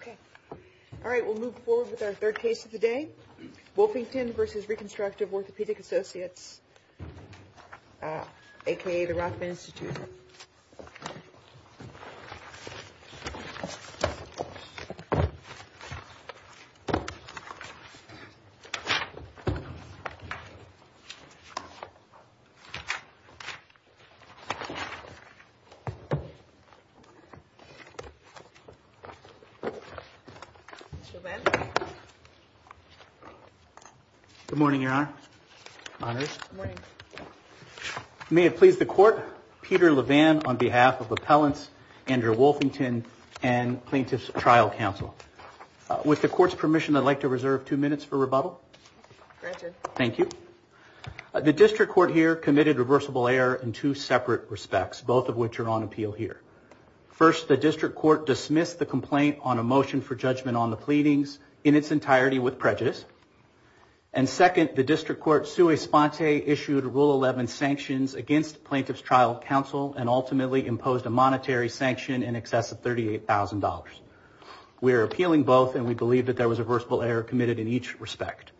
Okay. All right, we'll move forward with our third case of the day, Wolfington v. Reconstructive Orthopaedic Associates, a.k.a. the Rothman Institute. Good morning, Your Honor. May it please the Court, Peter Levan on behalf of Appellant Andrew Wolfington and Plaintiff's Trial Counsel. With the Court's permission, I'd like to reserve two minutes for rebuttal. Thank you. The District Court here committed reversible error in two separate respects, both of which are on appeal here. First, the District Court dismissed the complaint on a motion for judgment on the pleadings in its entirety with prejudice. And second, the District Court sui sponte issued Rule 11 sanctions against Plaintiff's Trial Counsel and ultimately imposed a monetary sanction in excess of $38,000. We are appealing both, and we believe that there was a reversible error committed in each respect.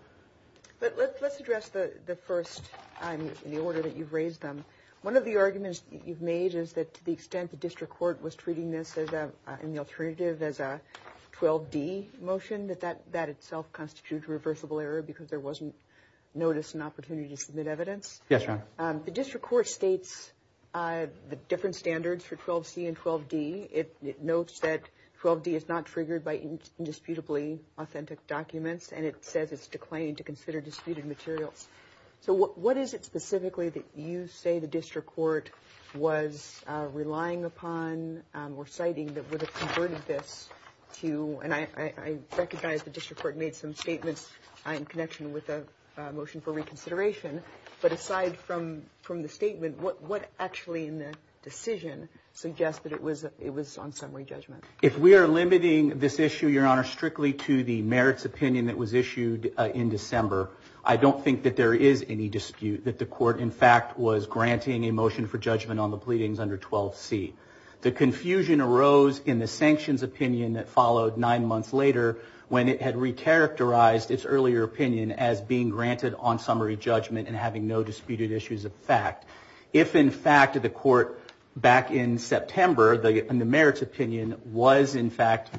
Let's address the first in the order that you've raised them. One of the arguments you've made is that to the extent the District Court was treating this in the alternative as a 12D motion, that that itself constitutes a reversible error because there wasn't notice and opportunity to submit evidence. Yes, ma'am. The District Court states the different standards for 12C and 12D. It notes that 12D is not triggered by indisputably authentic documents, and it says it's declining to consider disputed material. So what is it specifically that you say the District Court was relying upon or citing that would have converted this to – and I recognize the District Court made some statements in connection with the motion for reconsideration – but aside from the statement, what actually in the decision suggests that it was on summary judgment? If we are limiting this issue, Your Honor, strictly to the merits opinion that was issued in December, I don't think that there is any dispute that the Court, in fact, was granting a motion for judgment on the pleadings under 12C. The confusion arose in the sanctions opinion that followed nine months later when it had re-characterized its earlier opinion as being granted on summary judgment and having no disputed issues of fact. If, in fact, the Court back in September, in the merits opinion, was, in fact,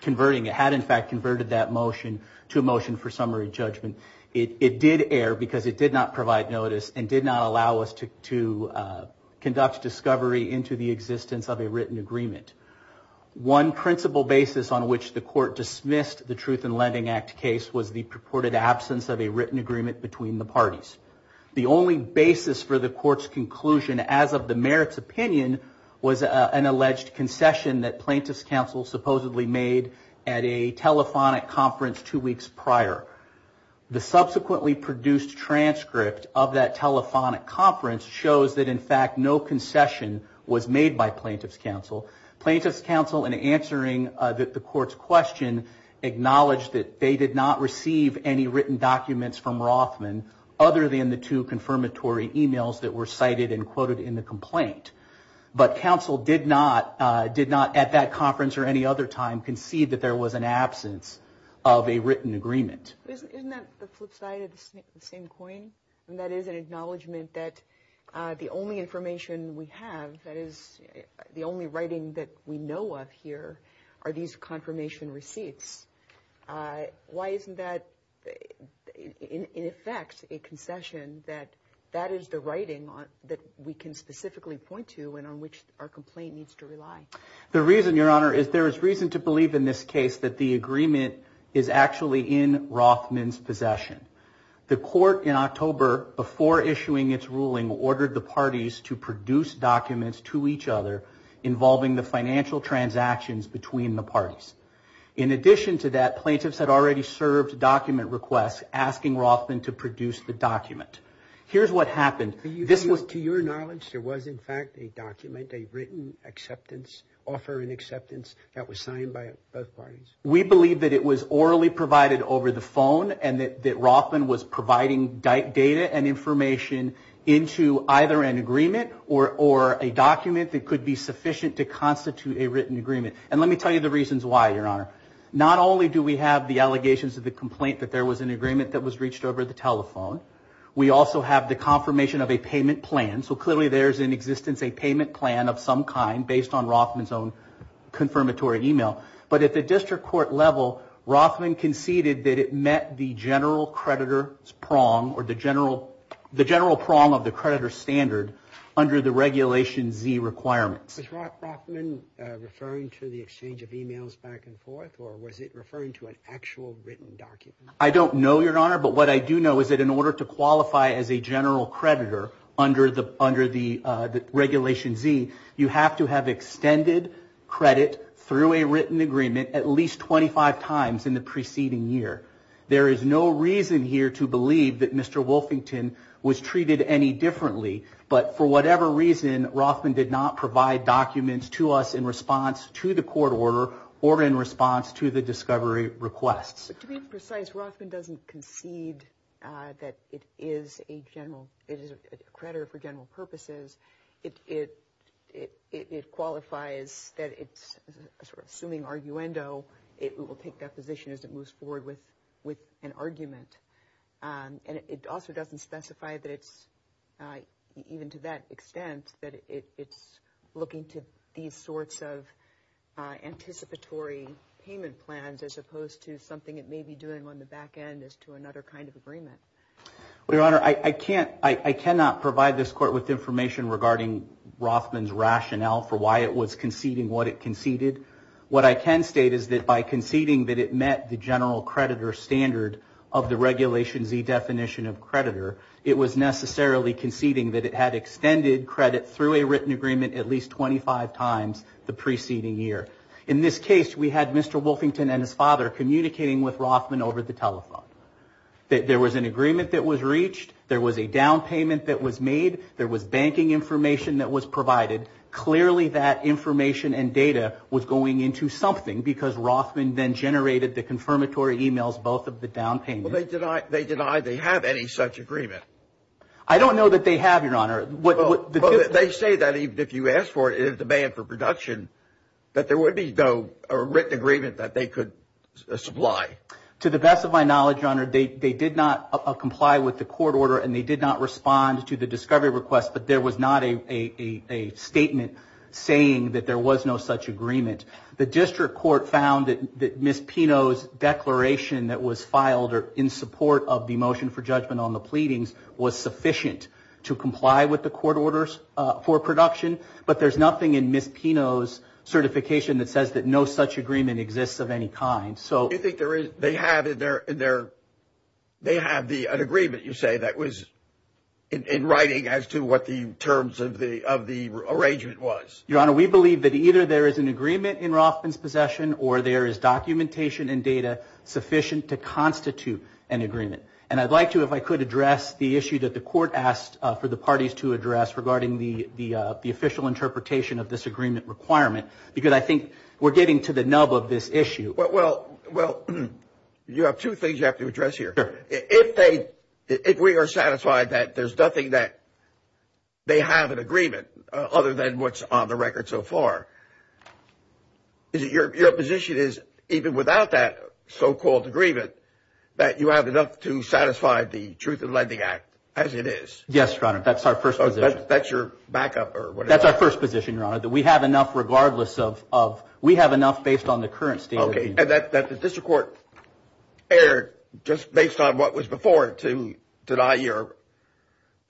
converting – had, in fact, converted that motion to a motion for summary judgment, it did err because it did not provide notice and did not allow us to conduct discovery into the existence of a written agreement. One principal basis on which the Court dismissed the Truth in Lending Act case was the purported absence of a written agreement between the parties. The only basis for the Court's conclusion as of the merits opinion was an alleged concession that plaintiff's counsel supposedly made at a telephonic conference two weeks prior. The subsequently produced transcript of that telephonic conference shows that, in fact, no concession was made by plaintiff's counsel. Plaintiff's counsel, in answering the Court's question, acknowledged that they did not receive any written documents from Rothman other than the two confirmatory emails that were cited and quoted in the complaint. But counsel did not, at that conference or any other time, concede that there was an absence of a written agreement. Isn't that the flip side of the same coin? And that is an acknowledgment that the only information we have, that is, the only writing that we know of here, are these confirmation receipts. Why isn't that, in effect, a concession that that is the writing that we can specifically point to and on which our complaint needs to rely? The reason, Your Honor, is there is reason to believe in this case that the agreement is actually in Rothman's possession. The Court, in October, before issuing its ruling, ordered the parties to produce documents to each other involving the financial transactions between the parties. In addition to that, plaintiffs had already served document requests asking Rothman to produce the document. Here's what happened. To your knowledge, there was, in fact, a document, a written offer and acceptance that was signed by both parties? We believe that it was orally provided over the phone and that Rothman was providing data and information into either an agreement or a document that could be sufficient to constitute a written agreement. And let me tell you the reasons why, Your Honor. Not only do we have the allegations of the complaint that there was an agreement that was reached over the telephone, we also have the confirmation of a payment plan. So, clearly, there is in existence a payment plan of some kind based on Rothman's own confirmatory email. But at the district court level, Rothman conceded that it met the general creditor's prong or the general prong of the creditor's standard under the Regulation Z requirements. Was Rothman referring to the exchange of emails back and forth or was it referring to an actual written document? I don't know, Your Honor, but what I do know is that in order to qualify as a general creditor under the Regulation Z, you have to have extended credit through a written agreement at least 25 times in the preceding year. There is no reason here to believe that Mr. Wolfington was treated any differently, but for whatever reason, Rothman did not provide documents to us in response to the court order or in response to the discovery requests. To be precise, Rothman doesn't concede that it is a creditor for general purposes. It qualifies that it's sort of assuming arguendo. It will take that position as it moves forward with an argument. And it also doesn't specify, even to that extent, that it's looking to these sorts of anticipatory payment plans as opposed to something it may be doing on the back end as to another kind of agreement. Your Honor, I cannot provide this court with information regarding Rothman's rationale for why it was conceding what it conceded. What I can state is that by conceding that it met the general creditor's standard of the Regulation Z definition of creditor, it was necessarily conceding that it had extended credit through a written agreement at least 25 times the preceding year. In this case, we had Mr. Wolfington and his father communicating with Rothman over the telephone. There was an agreement that was reached. There was a down payment that was made. There was banking information that was provided. Clearly, that information and data was going into something because Rothman then generated the confirmatory emails, both of the down payments. So they deny they have any such agreement? I don't know that they have, Your Honor. They say that even if you ask for it, it is a ban for production, that there would be no written agreement that they could supply. To the best of my knowledge, Your Honor, they did not comply with the court order and they did not respond to the discovery request, but there was not a statement saying that there was no such agreement. The district court found that Ms. Pino's declaration that was filed in support of the motion for judgment on the pleadings was sufficient to comply with the court orders for production, but there's nothing in Ms. Pino's certification that says that no such agreement exists of any kind. You think they have an agreement, you say, that was in writing as to what the terms of the arrangement was? Your Honor, we believe that either there is an agreement in Rothman's possession or there is documentation and data sufficient to constitute an agreement. And I'd like to, if I could, address the issue that the court asked for the parties to address regarding the official interpretation of this agreement requirement, because I think we're getting to the nub of this issue. Well, you have two things you have to address here. If we are satisfied that there's nothing that they have in agreement other than what's on the record so far, your position is, even without that so-called agreement, that you have enough to satisfy the Truth in Lending Act as it is? Yes, Your Honor, that's our first position. That's your backup or whatever? That's our first position, Your Honor, that we have enough regardless of, we have enough based on the current statement. Okay, and that the district court erred just based on what was before to deny your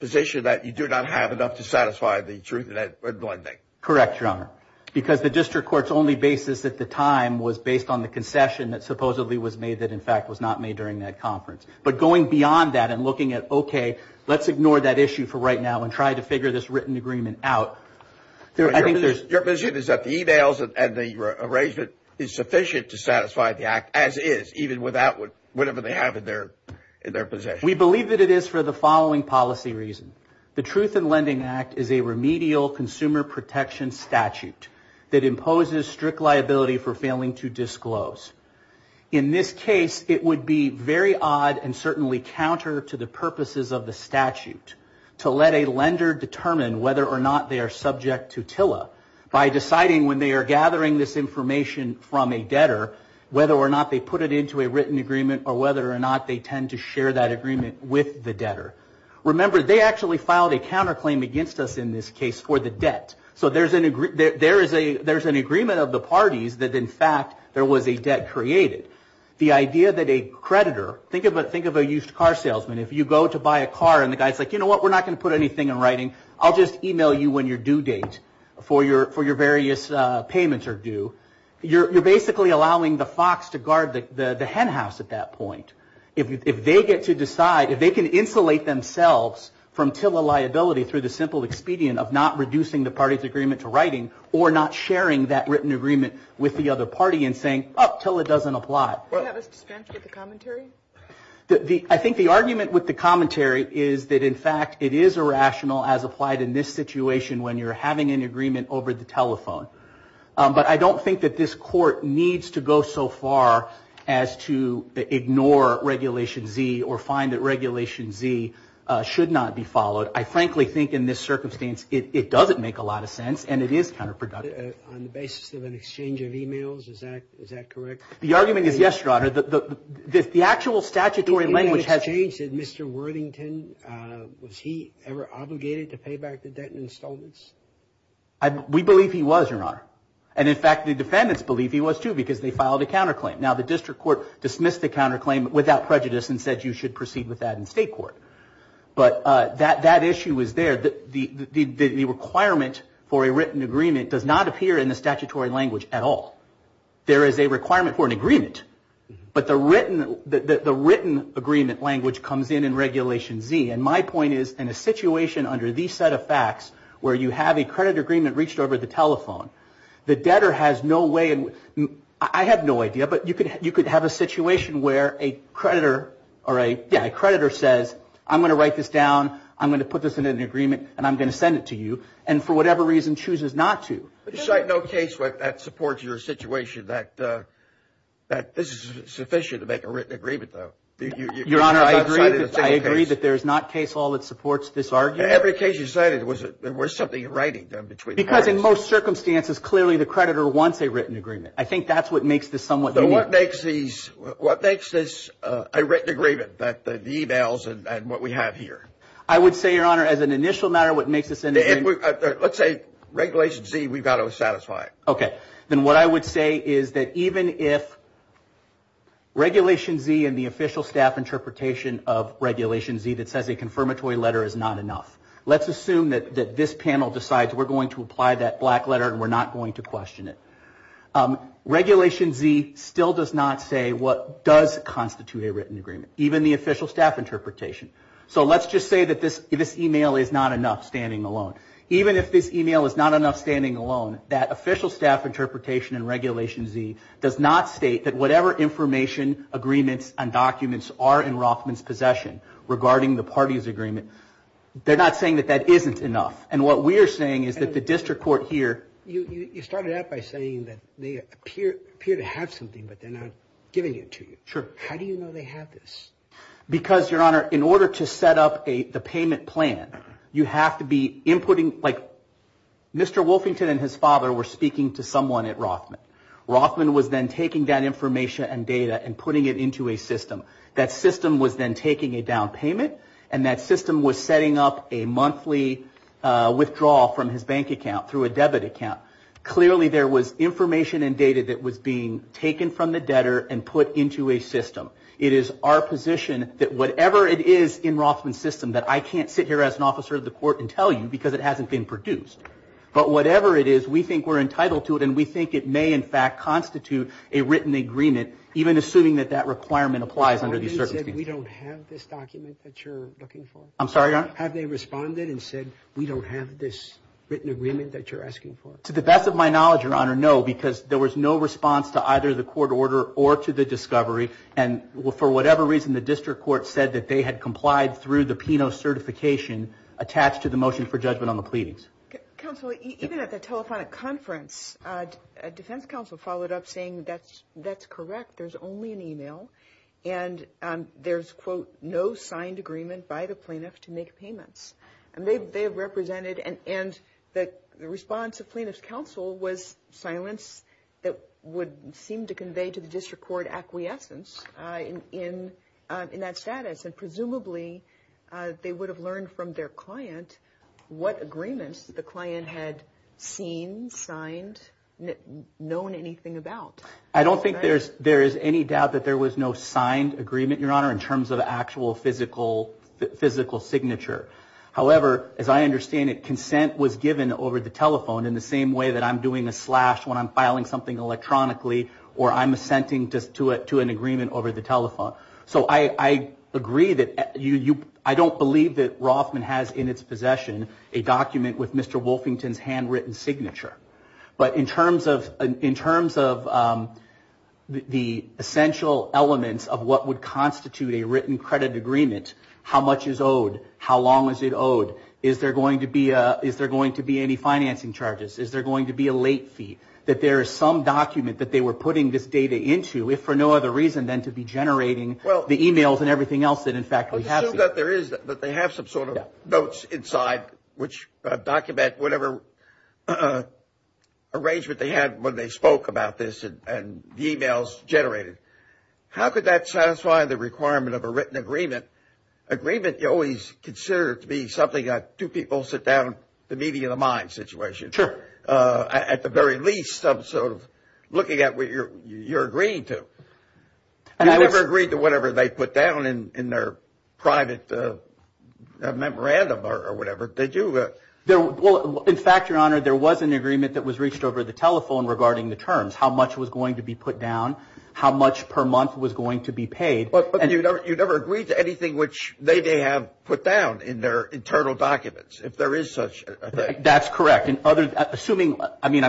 position that you do not have enough to satisfy the Truth in Lending Act? Correct, Your Honor, because the district court's only basis at the time was based on the concession that supposedly was made that, in fact, was not made during that conference. But going beyond that and looking at, okay, let's ignore that issue for right now and try to figure this written agreement out. Your position is that the e-mails and the arrangement is sufficient to satisfy the act as is, even without whatever they have in their possession? We believe that it is for the following policy reasons. The Truth in Lending Act is a remedial consumer protection statute that imposes strict liability for failing to disclose. In this case, it would be very odd and certainly counter to the purposes of the statute to let a lender determine whether or not they are subject to TILA by deciding when they are gathering this information from a debtor, whether or not they put it into a written agreement or whether or not they tend to share that agreement with the debtor. Remember, they actually filed a counterclaim against us in this case for the debt. So there's an agreement of the parties that, in fact, there was a debt created. The idea that a creditor, think of a used car salesman. If you go to buy a car and the guy is like, you know what, we're not going to put anything in writing. I'll just e-mail you when your due date for your various payments are due. You're basically allowing the fox to guard the hen house at that point. If they get to decide, if they can insulate themselves from TILA liability through the simple expedient of not reducing the party's agreement to writing or not sharing that written agreement with the other party and saying, oh, TILA doesn't apply. Do you have a dispense with the commentary? I think the argument with the commentary is that, in fact, it is irrational as applied in this situation when you're having an agreement over the telephone. But I don't think that this court needs to go so far as to ignore Regulation Z or find that Regulation Z should not be followed. I frankly think in this circumstance it doesn't make a lot of sense and it is counterproductive. On the basis of an exchange of e-mails, is that correct? The argument is yes, your honor. The actual statutory language has Mr. Worthington, was he ever obligated to pay back the debt in installments? We believe he was, your honor. And, in fact, the defendants believe he was too because they filed a counterclaim. Now, the district court dismissed the counterclaim without prejudice and said you should proceed with that in state court. But that issue is there. The requirement for a written agreement does not appear in the statutory language at all. There is a requirement for an agreement. But the written agreement language comes in in Regulation Z. And my point is in a situation under these set of facts where you have a credit agreement reached over the telephone, the debtor has no way, I have no idea, but you could have a situation where a creditor says, I'm going to write this down, I'm going to put this in an agreement, and I'm going to send it to you, and for whatever reason chooses not to. There's no case where that supports your situation, that this is sufficient to make a written agreement, though. Your honor, I agree that there is not case law that supports this argument. In every case you cited, there was something in writing done between the parties. Because in most circumstances, clearly the creditor wants a written agreement. I think that's what makes this somewhat unique. So what makes this a written agreement, the e-mails and what we have here? I would say, your honor, as an initial matter, what makes this an agreement? Let's say regulation Z, we've got to satisfy it. Okay. Then what I would say is that even if regulation Z and the official staff interpretation of regulation Z that says a confirmatory letter is not enough, let's assume that this panel decides we're going to apply that black letter and we're not going to question it. Regulation Z still does not say what does constitute a written agreement, even the official staff interpretation. So let's just say that this e-mail is not enough standing alone. Even if this e-mail is not enough standing alone, that official staff interpretation in regulation Z does not state that whatever information, agreements, and documents are in Rothman's possession regarding the parties' agreement, they're not saying that that isn't enough. And what we are saying is that the district court here You started out by saying that they appear to have something, but then they're giving it to you. Sure. How do you know they have this? Because, Your Honor, in order to set up the payment plan, you have to be inputting like Mr. Wolfington and his father were speaking to someone at Rothman. Rothman was then taking that information and data and putting it into a system. That system was then taking a down payment, and that system was setting up a monthly withdrawal from his bank account through a debit account. Clearly there was information and data that was being taken from the debtor and put into a system. It is our position that whatever it is in Rothman's system that I can't sit here as an officer of the court and tell you because it hasn't been produced. But whatever it is, we think we're entitled to it, and we think it may in fact constitute a written agreement, even assuming that that requirement applies under these circumstances. How do you know that we don't have this document that you're looking for? I'm sorry, Your Honor? Have they responded and said we don't have this written agreement that you're asking for? To the best of my knowledge, Your Honor, no, because there was no response to either the court order or to the discovery, and for whatever reason the district court said that they had complied through the PINO certification attached to the motion for judgment on the pleadings. Counsel, even at the telephonic conference, defense counsel followed up saying that's correct, there's only an email, and there's, quote, no signed agreement by the plaintiff to make payments. They have represented, and the response of plaintiff's counsel was silence that would seem to convey to the district court acquiescence in that status, and presumably they would have learned from their client what agreement the client had seen, signed, known anything about. I don't think there is any doubt that there was no signed agreement, Your Honor, in terms of actual physical signature. However, as I understand it, consent was given over the telephone in the same way that I'm doing a slash when I'm filing something electronically or I'm assenting to an agreement over the telephone. So I agree that I don't believe that Rothman has in its possession a document with Mr. Wolfington's handwritten signature, but in terms of the essential elements of what would constitute a written credit agreement, how much is owed, how long is it owed, is there going to be any financing charges, is there going to be a late fee, that there is some document that they were putting this data into, if for no other reason than to be generating the emails and everything else that, in fact, we have. But they have some sort of notes inside which document whatever arrangement they had when they spoke about this and the emails generated. How could that satisfy the requirement of a written agreement? An agreement you always consider to be something that two people sit down, the meeting of the mind situation. Sure. At the very least, I'm sort of looking at what you're agreeing to. You never agreed to whatever they put down in their private memorandum or whatever, did you? Well, in fact, Your Honor, there was an agreement that was reached over the telephone regarding the terms, how much was going to be put down, how much per month was going to be paid. But you never agreed to anything which they may have put down in their internal documents, if there is such a thing. That's correct. That's not an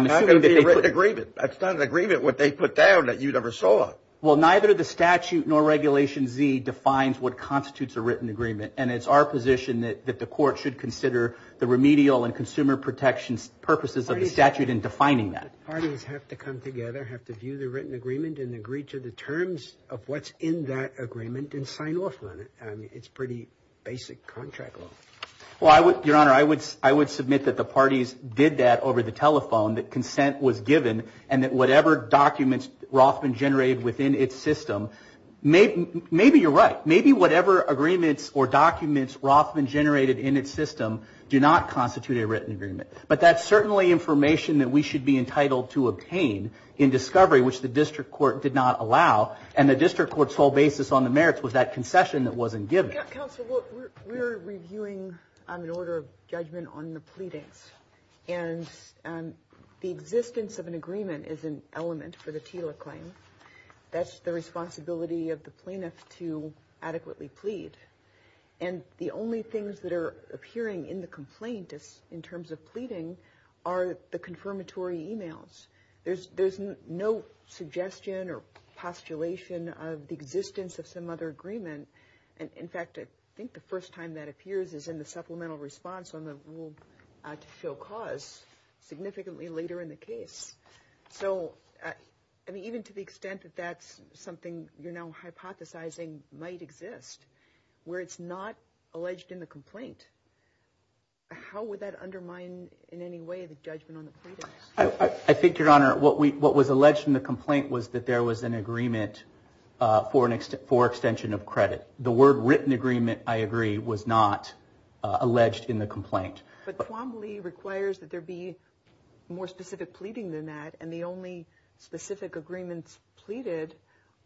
agreement what they put down that you never saw. Well, neither the statute nor Regulation Z defines what constitutes a written agreement, and it's our position that the court should consider the remedial and consumer protection purposes of the statute in defining that. Parties have to come together, have to view the written agreement, and agree to the terms of what's in that agreement and sign off on it. I mean, it's pretty basic contract law. Well, Your Honor, I would submit that the parties did that over the telephone, that consent was given, and that whatever documents Rothman generated within its system, maybe you're right. Maybe whatever agreements or documents Rothman generated in its system do not constitute a written agreement. But that's certainly information that we should be entitled to obtain in discovery, which the district court did not allow, and the district court's sole basis on the merits was that concession that wasn't given. Counsel, look, we're reviewing an order of judgment on the pleadings, and the existence of an agreement is an element for the TILA claim. That's the responsibility of the plaintiff to adequately plead. And the only things that are appearing in the complaint in terms of pleading are the confirmatory emails. There's no suggestion or postulation of the existence of some other agreement. In fact, I think the first time that appears is in the supplemental response on the rule to show cause significantly later in the case. So even to the extent that that's something you're now hypothesizing might exist, where it's not alleged in the complaint, how would that undermine in any way the judgment on the pleading? I think, Your Honor, what was alleged in the complaint was that there was an agreement for extension of credit. The word written agreement, I agree, was not alleged in the complaint. But Quambly requires that there be more specific pleading than that, and the only specific agreements pleaded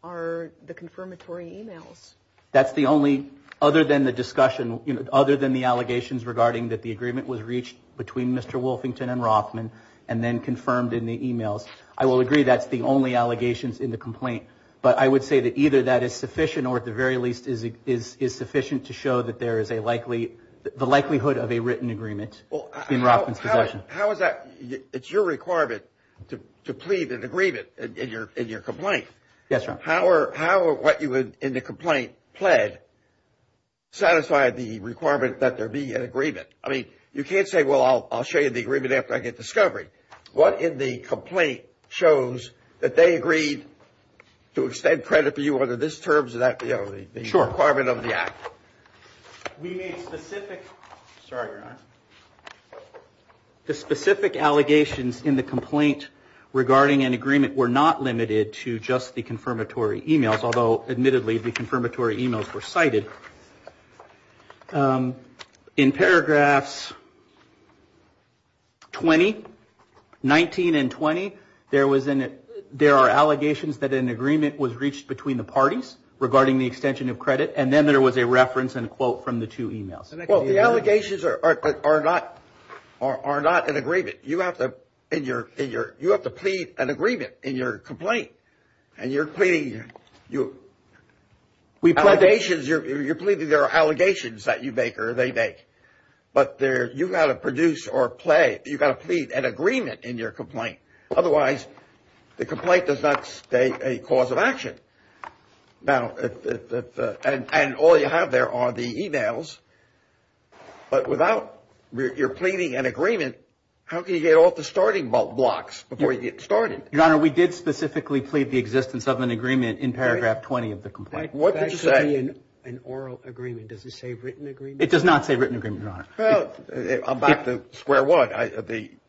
are the confirmatory emails. That's the only, other than the discussion, other than the allegations regarding that the agreement was reached between Mr. Wolfington and Rockman and then confirmed in the emails. I will agree that's the only allegations in the complaint, but I would say that either that is sufficient or at the very least is sufficient to show that there is a likely, the likelihood of a written agreement in Rockman's suggestion. How is that, it's your requirement to plead an agreement in your complaint. Yes, Your Honor. How are what you would in the complaint pled satisfy the requirement that there be an agreement? I mean, you can't say, well, I'll show you the agreement after I get discovery. What in the complaint shows that they agreed to extend credit for you under this terms that the requirement of the act. We made specific, sorry, Your Honor. The specific allegations in the complaint regarding an agreement were not limited to just the confirmatory emails, although admittedly the confirmatory emails were cited. In paragraphs 20, 19 and 20, there are allegations that an agreement was reached between the parties regarding the extension of credit and then there was a reference and a quote from the two emails. Well, the allegations are not an agreement. You have to plead an agreement in your complaint and you're pleading. You're pleading there are allegations that you make or they make, but you've got to produce or plead an agreement in your complaint. Otherwise, the complaint does not stay a cause of action. Now, and all you have there are the emails, but without your pleading an agreement, how can you get off the starting blocks before you get started? Your Honor, we did specifically plead the existence of an agreement in paragraph 20 of the complaint. What did you say? An oral agreement. Does it say written agreement? It does not say written agreement, Your Honor. I'm back to square one.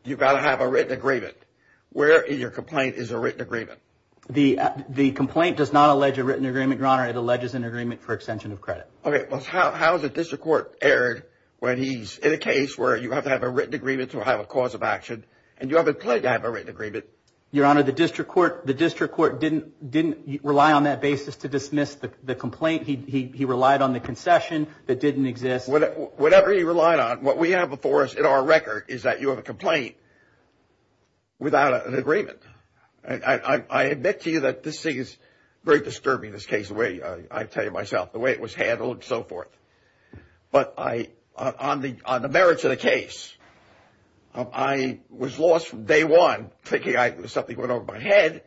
You've got to have a written agreement. Where in your complaint is a written agreement? The complaint does not allege a written agreement, Your Honor. It alleges an agreement for extension of credit. Okay. How is a district court erred when he's in a case where you have to have a written agreement to have a cause of action and you haven't pleaded to have a written agreement? Your Honor, the district court didn't rely on that basis to dismiss the complaint. He relied on the concession that didn't exist. Whatever he relied on, what we have before us in our record is that you have a complaint without an agreement. I admit to you that this thing is very disturbing, this case, the way I tell you myself, the way it was handled and so forth. But on the merits of the case, I was lost from day one, thinking something went over my head,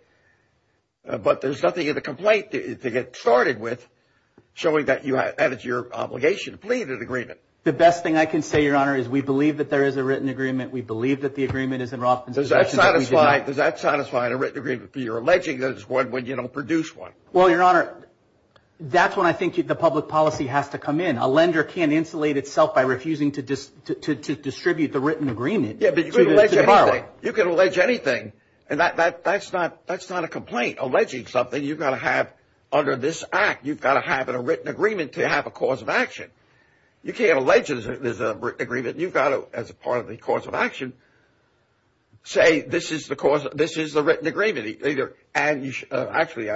but there's nothing in the complaint to get started with showing that that is your obligation to plead an agreement. The best thing I can say, Your Honor, is we believe that there is a written agreement. We believe that the agreement is in raw condition. Does that satisfy a written agreement for your alleging there's one when you don't produce one? Well, Your Honor, that's when I think the public policy has to come in. A lender can't insulate itself by refusing to distribute the written agreement. Yeah, but you can allege anything. You can allege anything, and that's not a complaint. Alleging something, you've got to have under this act, you've got to have a written agreement to have a cause of action. You can't allege that there's a written agreement. You've got to, as a part of the cause of action, say this is the written agreement. Actually,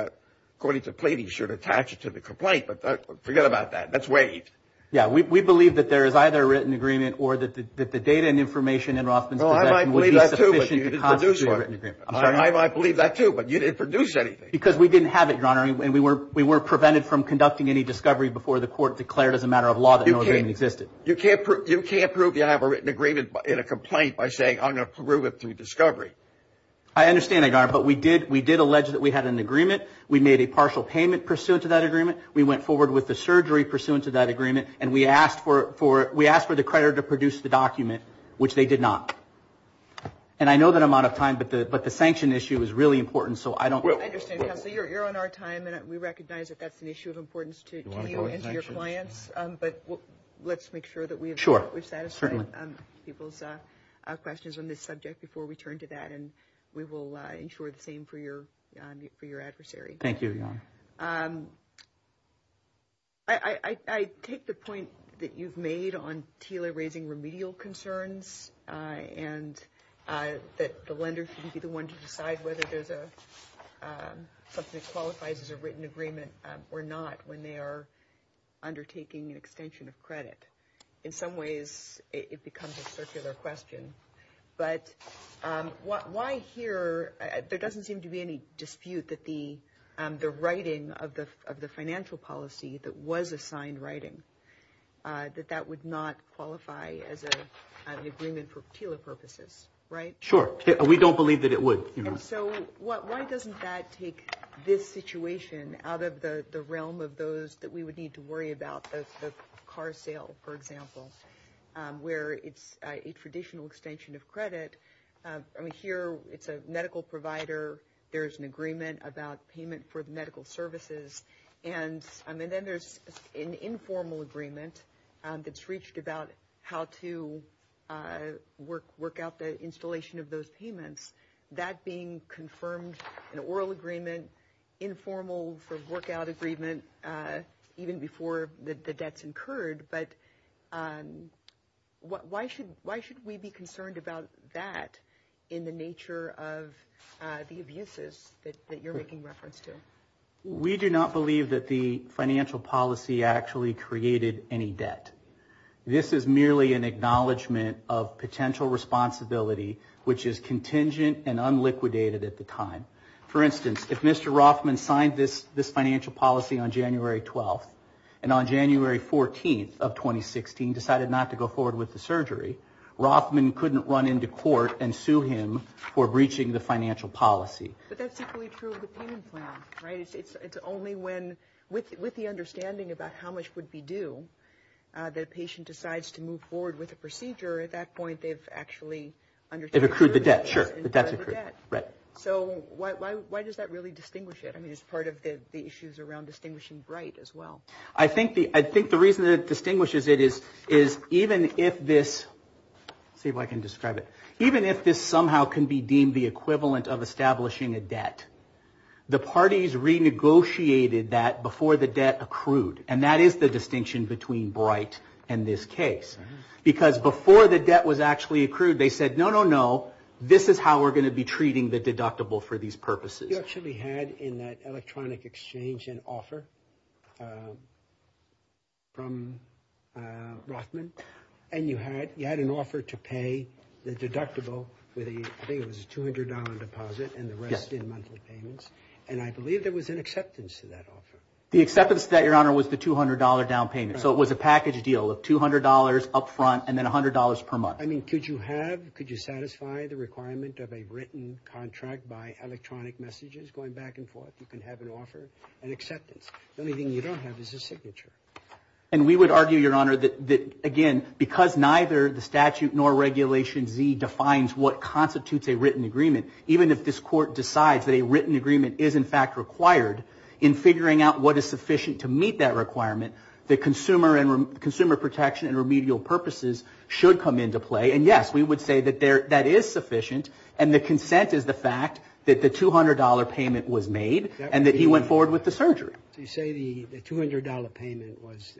according to pleading, you should attach it to the complaint, but forget about that. That's waste. Yeah, we believe that there is either a written agreement or that the data and information in Rawson's case is sufficient to constitute a written agreement. I believe that too, but you didn't produce anything. Because we didn't have it, Your Honor, and we were prevented from conducting any discovery before the court declared as a matter of law that no agreement existed. You can't prove you have a written agreement in a complaint by saying I'm going to prove it through discovery. I understand that, Your Honor, but we did allege that we had an agreement. We made a partial payment pursuant to that agreement. We went forward with the surgery pursuant to that agreement, and we asked for the creditor to produce the document, which they did not. And I know that I'm out of time, but the sanction issue is really important. I understand, Counselor, you're on our time, and we recognize that that's an issue of importance to you and to your clients, but let's make sure that we've satisfied people's questions on this subject before we turn to that, and we will ensure the same for your adversary. Thank you, Your Honor. I take the point that you've made on Tila raising remedial concerns and that the lenders can be the ones to decide whether something's qualified as a written agreement or not when they are undertaking an extension of credit. In some ways, it becomes a circular question, but why here? There doesn't seem to be any dispute that the writing of the financial policy that was assigned writing, that that would not qualify as an agreement for Tila purposes, right? Sure. We don't believe that it would. So why doesn't that take this situation out of the realm of those that we would need to worry about, the car sale, for example, where it's a traditional extension of credit. Here, it's a medical provider. There's an agreement about payment for medical services, and then there's an informal agreement that's reached about how to work out the installation of those payments. That being confirmed in an oral agreement, informal sort of work-out agreement, even before the debt's incurred. But why should we be concerned about that in the nature of the abuses that you're making reference to? We do not believe that the financial policy actually created any debt. This is merely an acknowledgment of potential responsibility, which is contingent and unliquidated at the time. For instance, if Mr. Rothman signed this financial policy on January 12th, and on January 14th of 2016 decided not to go forward with the surgery, Rothman couldn't run into court and sue him for breaching the financial policy. But that's typically true of the payment plan, right? It's only when, with the understanding about how much would be due, that a patient decides to move forward with a procedure. At that point, they've actually understood... It accrued the debt, sure. So why does that really distinguish it? I mean, it's part of the issues around distinguishing right as well. I think the reason that it distinguishes it is even if this, see if I can describe it, even if this somehow can be deemed the equivalent of establishing a debt, the parties renegotiated that before the debt accrued, and that is the distinction between Bright and this case. Because before the debt was actually accrued, they said, no, no, no, this is how we're going to be treating the deductible for these purposes. You actually had in that electronic exchange an offer from Rothman, and you had an offer to pay the deductible with a, I think it was a $200 deposit, and the rest in monthly payments. And I believe there was an acceptance to that offer. The acceptance to that, Your Honor, was the $200 down payment. So it was a package deal of $200 up front and then $100 per month. I mean, could you have, could you satisfy the requirement of a written contract by electronic messages going back and forth? You can have an offer, an acceptance. The only thing you don't have is a signature. And we would argue, Your Honor, that, again, because neither the statute nor Regulation Z defines what constitutes a written agreement, even if this court decides that a written agreement is, in fact, required, in figuring out what is sufficient to meet that requirement, the consumer protection and remedial purposes should come into play. And, yes, we would say that that is sufficient, and the consent is the fact that the $200 payment was made and that he went forward with the surgery. You say the $200 payment was,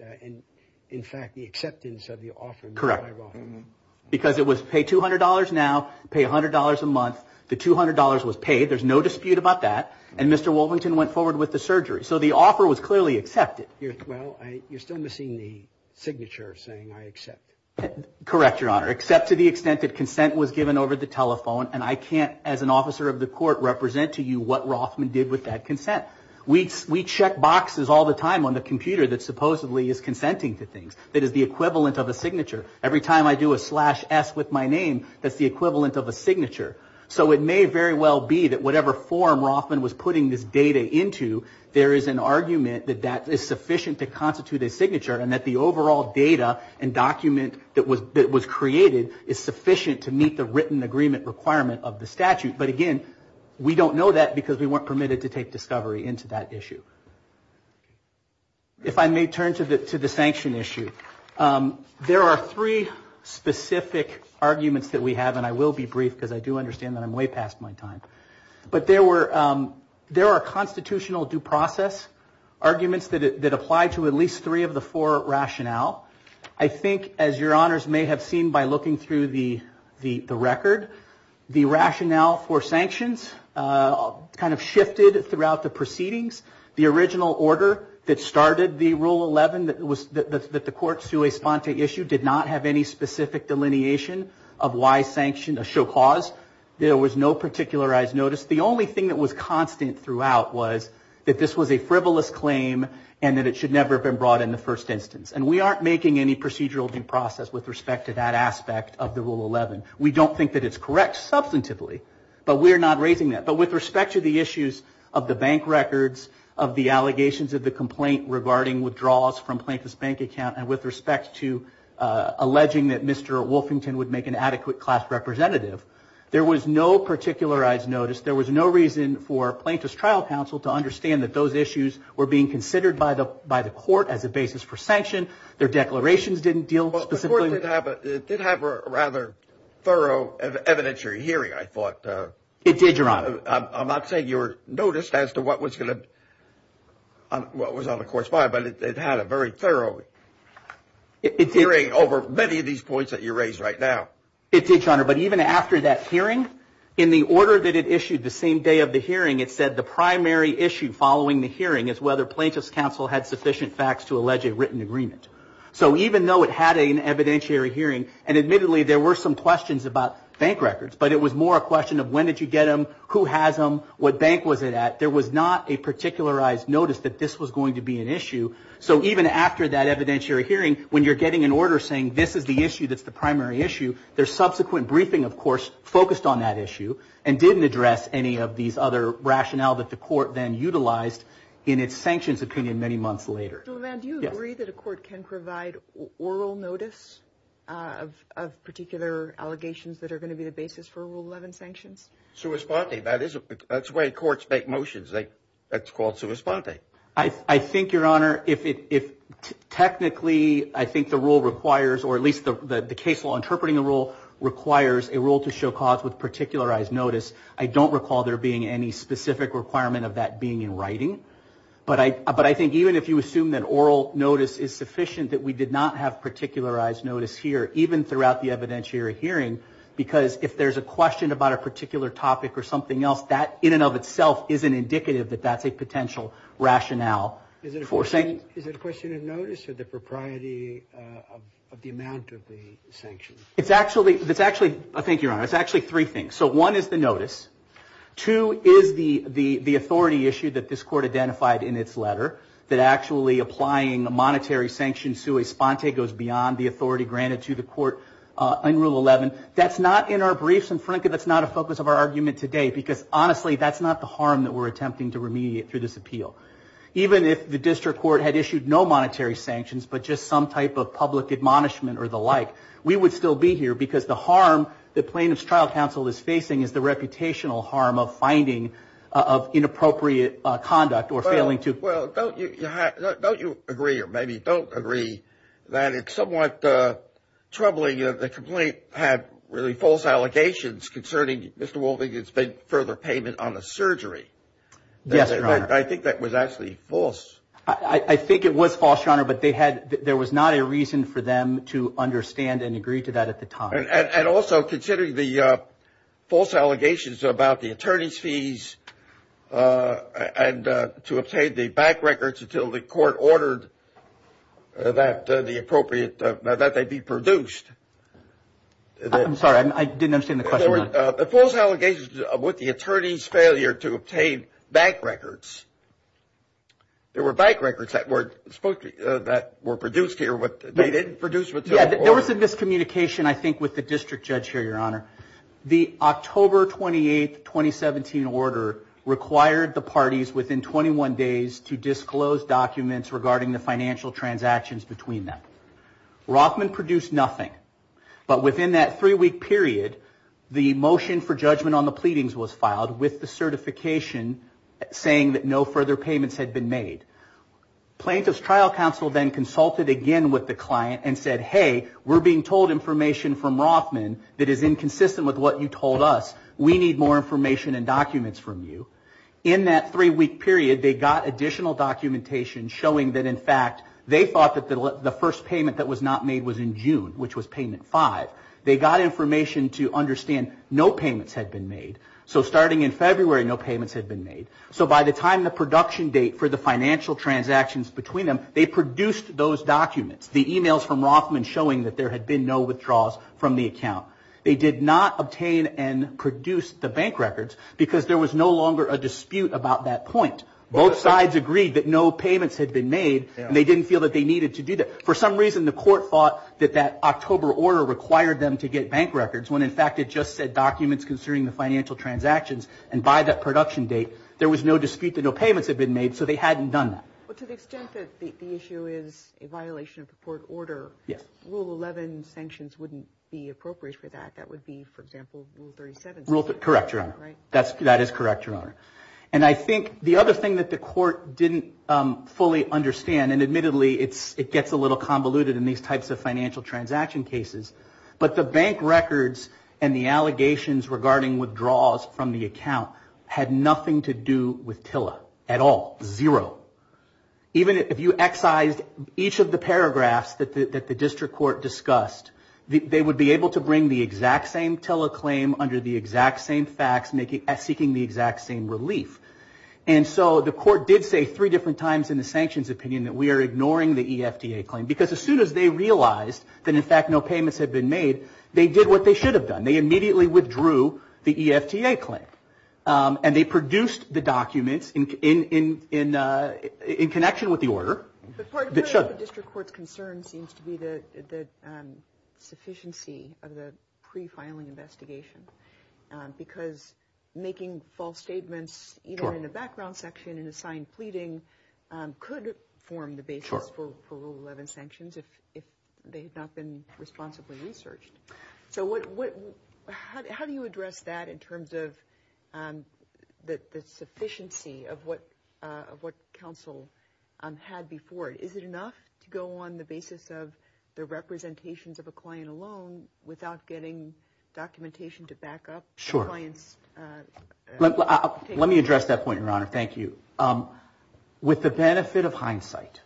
in fact, the acceptance of the offer. Correct. Because it was pay $200 now, pay $100 a month. The $200 was paid. There's no dispute about that. And Mr. Wolvington went forward with the surgery. So the offer was clearly accepted. Well, you're still missing the signature saying I accept. Correct, Your Honor. Except to the extent that consent was given over the telephone, and I can't, as an officer of the court, represent to you what Rothman did with that consent. We check boxes all the time on the computer that supposedly is consenting to things. It is the equivalent of a signature. Every time I do a slash S with my name, that's the equivalent of a signature. So it may very well be that whatever form Rothman was putting this data into, there is an argument that that is sufficient to constitute a signature and that the overall data and document that was created is sufficient to meet the written agreement requirement of the statute. But again, we don't know that because we weren't permitted to take discovery into that issue. If I may turn to the sanction issue, there are three specific arguments that we have, and I will be brief because I do understand that I'm way past my time. But there are constitutional due process arguments that apply to at least three of the four rationale. I think, as Your Honors may have seen by looking through the record, the rationale for sanctions kind of shifted throughout the proceedings. The original order that started the Rule 11 that the court sui sponte issue did not have any specific delineation of why sanctions should cause. There was no particularized notice. The only thing that was constant throughout was that this was a frivolous claim and that it should never have been brought in the first instance. And we aren't making any procedural due process with respect to that aspect of the Rule 11. We don't think that it's correct substantively, but we're not raising that. But with respect to the issues of the bank records, of the allegations of the complaint regarding withdrawals from Plaintiff's bank account, and with respect to alleging that Mr. Wolfington would make an adequate class representative, there was no particularized notice. There was no reason for Plaintiff's trial counsel to understand that those issues were being considered by the court as a basis for sanction. Their declarations didn't deal specifically with that. It did have a rather thorough evidentiary hearing, I thought. It did, Your Honor. I'm not saying you were noticed as to what was going to be on the court's mind, but it had a very thorough hearing over many of these points that you raised right now. It did, Your Honor. But even after that hearing, in the order that it issued the same day of the hearing, it said the primary issue following the hearing is whether Plaintiff's counsel had sufficient facts to allege a written agreement. So even though it had an evidentiary hearing, and admittedly there were some questions about bank records, but it was more a question of when did you get them, who has them, what bank was it at, there was not a particularized notice that this was going to be an issue. So even after that evidentiary hearing, when you're getting an order saying this is the issue, that's the primary issue, their subsequent briefing, of course, focused on that issue and didn't address any of these other rationales that the court then utilized in its sanctions opinion many months later. Mr. Levin, do you agree that a court can provide oral notice of particular allegations that are going to be the basis for Rule 11 sanctions? Sui sponte. That's the way courts make motions. That's called sui sponte. I think, Your Honor, if technically I think the rule requires, or at least the case law interpreting the rule requires, a rule to show cause with particularized notice, I don't recall there being any specific requirement of that being in writing. But I think even if you assume that oral notice is sufficient, that we did not have particularized notice here, even throughout the evidentiary hearing, because if there's a question about a particular topic or something else, that in and of itself isn't indicative that that's a potential rationale for sanctions. Is it a question of notice or the propriety of the amount of the sanctions? It's actually, I think, Your Honor, it's actually three things. So one is the notice. Two is the authority issue that this court identified in its letter, that actually applying a monetary sanction sui sponte goes beyond the authority granted to the court in Rule 11. That's not in our briefs, and frankly, that's not a focus of our argument today, because honestly that's not the harm that we're attempting to remediate through this appeal. Even if the district court had issued no monetary sanctions but just some type of public admonishment or the like, we would still be here because the harm that Plaintiff's Trial Counsel is facing is the reputational harm of finding inappropriate conduct or failing to... Well, don't you agree, or maybe don't agree, that it's somewhat troubling that the complaint had really false allegations concerning Mr. Wolfinger's further payment on the surgery? Yes, Your Honor. I think that was actually false. I think it was false, Your Honor, but there was not a reason for them to understand and agree to that at the time. And also considering the false allegations about the attorney's fees and to obtain the bank records until the court ordered that they be produced. I'm sorry, I didn't understand the question. There were false allegations with the attorney's failure to obtain bank records. There were bank records that were produced here, but they didn't produce with the court. There was a miscommunication, I think, with the district judge here, Your Honor. The October 28, 2017 order required the parties within 21 days to disclose documents regarding the financial transactions between them. Rossman produced nothing, but within that three-week period, the motion for judgment on the pleadings was filed with the certification saying that no further payments had been made. Plaintiff's Trial Counsel then consulted again with the client and said, hey, we're being told information from Rossman that is inconsistent with what you told us. We need more information and documents from you. In that three-week period, they got additional documentation showing that, in fact, they thought that the first payment that was not made was in June, which was payment five. They got information to understand no payments had been made. So starting in February, no payments had been made. So by the time the production date for the financial transactions between them, they produced those documents, the emails from Rossman showing that there had been no withdrawals from the account. They did not obtain and produce the bank records because there was no longer a dispute about that point. Both sides agreed that no payments had been made, and they didn't feel that they needed to do that. For some reason, the court thought that that October order required them to get bank records when, in fact, it just said documents concerning the financial transactions, and by that production date, there was no dispute that no payments had been made, and so they hadn't done that. But to the extent that the issue is a violation of the court order, Rule 11 sanctions wouldn't be appropriate for that. That would be, for example, Rule 37. Correct, Your Honor. That is correct, Your Honor. And I think the other thing that the court didn't fully understand, and admittedly, it gets a little convoluted in these types of financial transaction cases, but the bank records and the allegations regarding withdrawals from the account had nothing to do with TILA at all. Zero. Even if you excise each of the paragraphs that the district court discussed, they would be able to bring the exact same TILA claim under the exact same facts seeking the exact same relief. And so the court did say three different times in the sanctions opinion that we are ignoring the EFTA claim because as soon as they realized that, in fact, no payments had been made, they did what they should have done. They immediately withdrew the EFTA claim. And they produced the document in connection with the order. The part about the district court concern seems to be the sufficiency of the pre-filing investigation because making false statements even in the background section and assigned pleading could form the basis for Rule 11 sanctions if they have not been responsibly researched. So how do you address that in terms of the sufficiency of what counsel had before? Is it enough to go on the basis of the representations of a client alone without getting documentation to back up the client's case? Let me address that point, Your Honor. Thank you. With the benefit of hindsight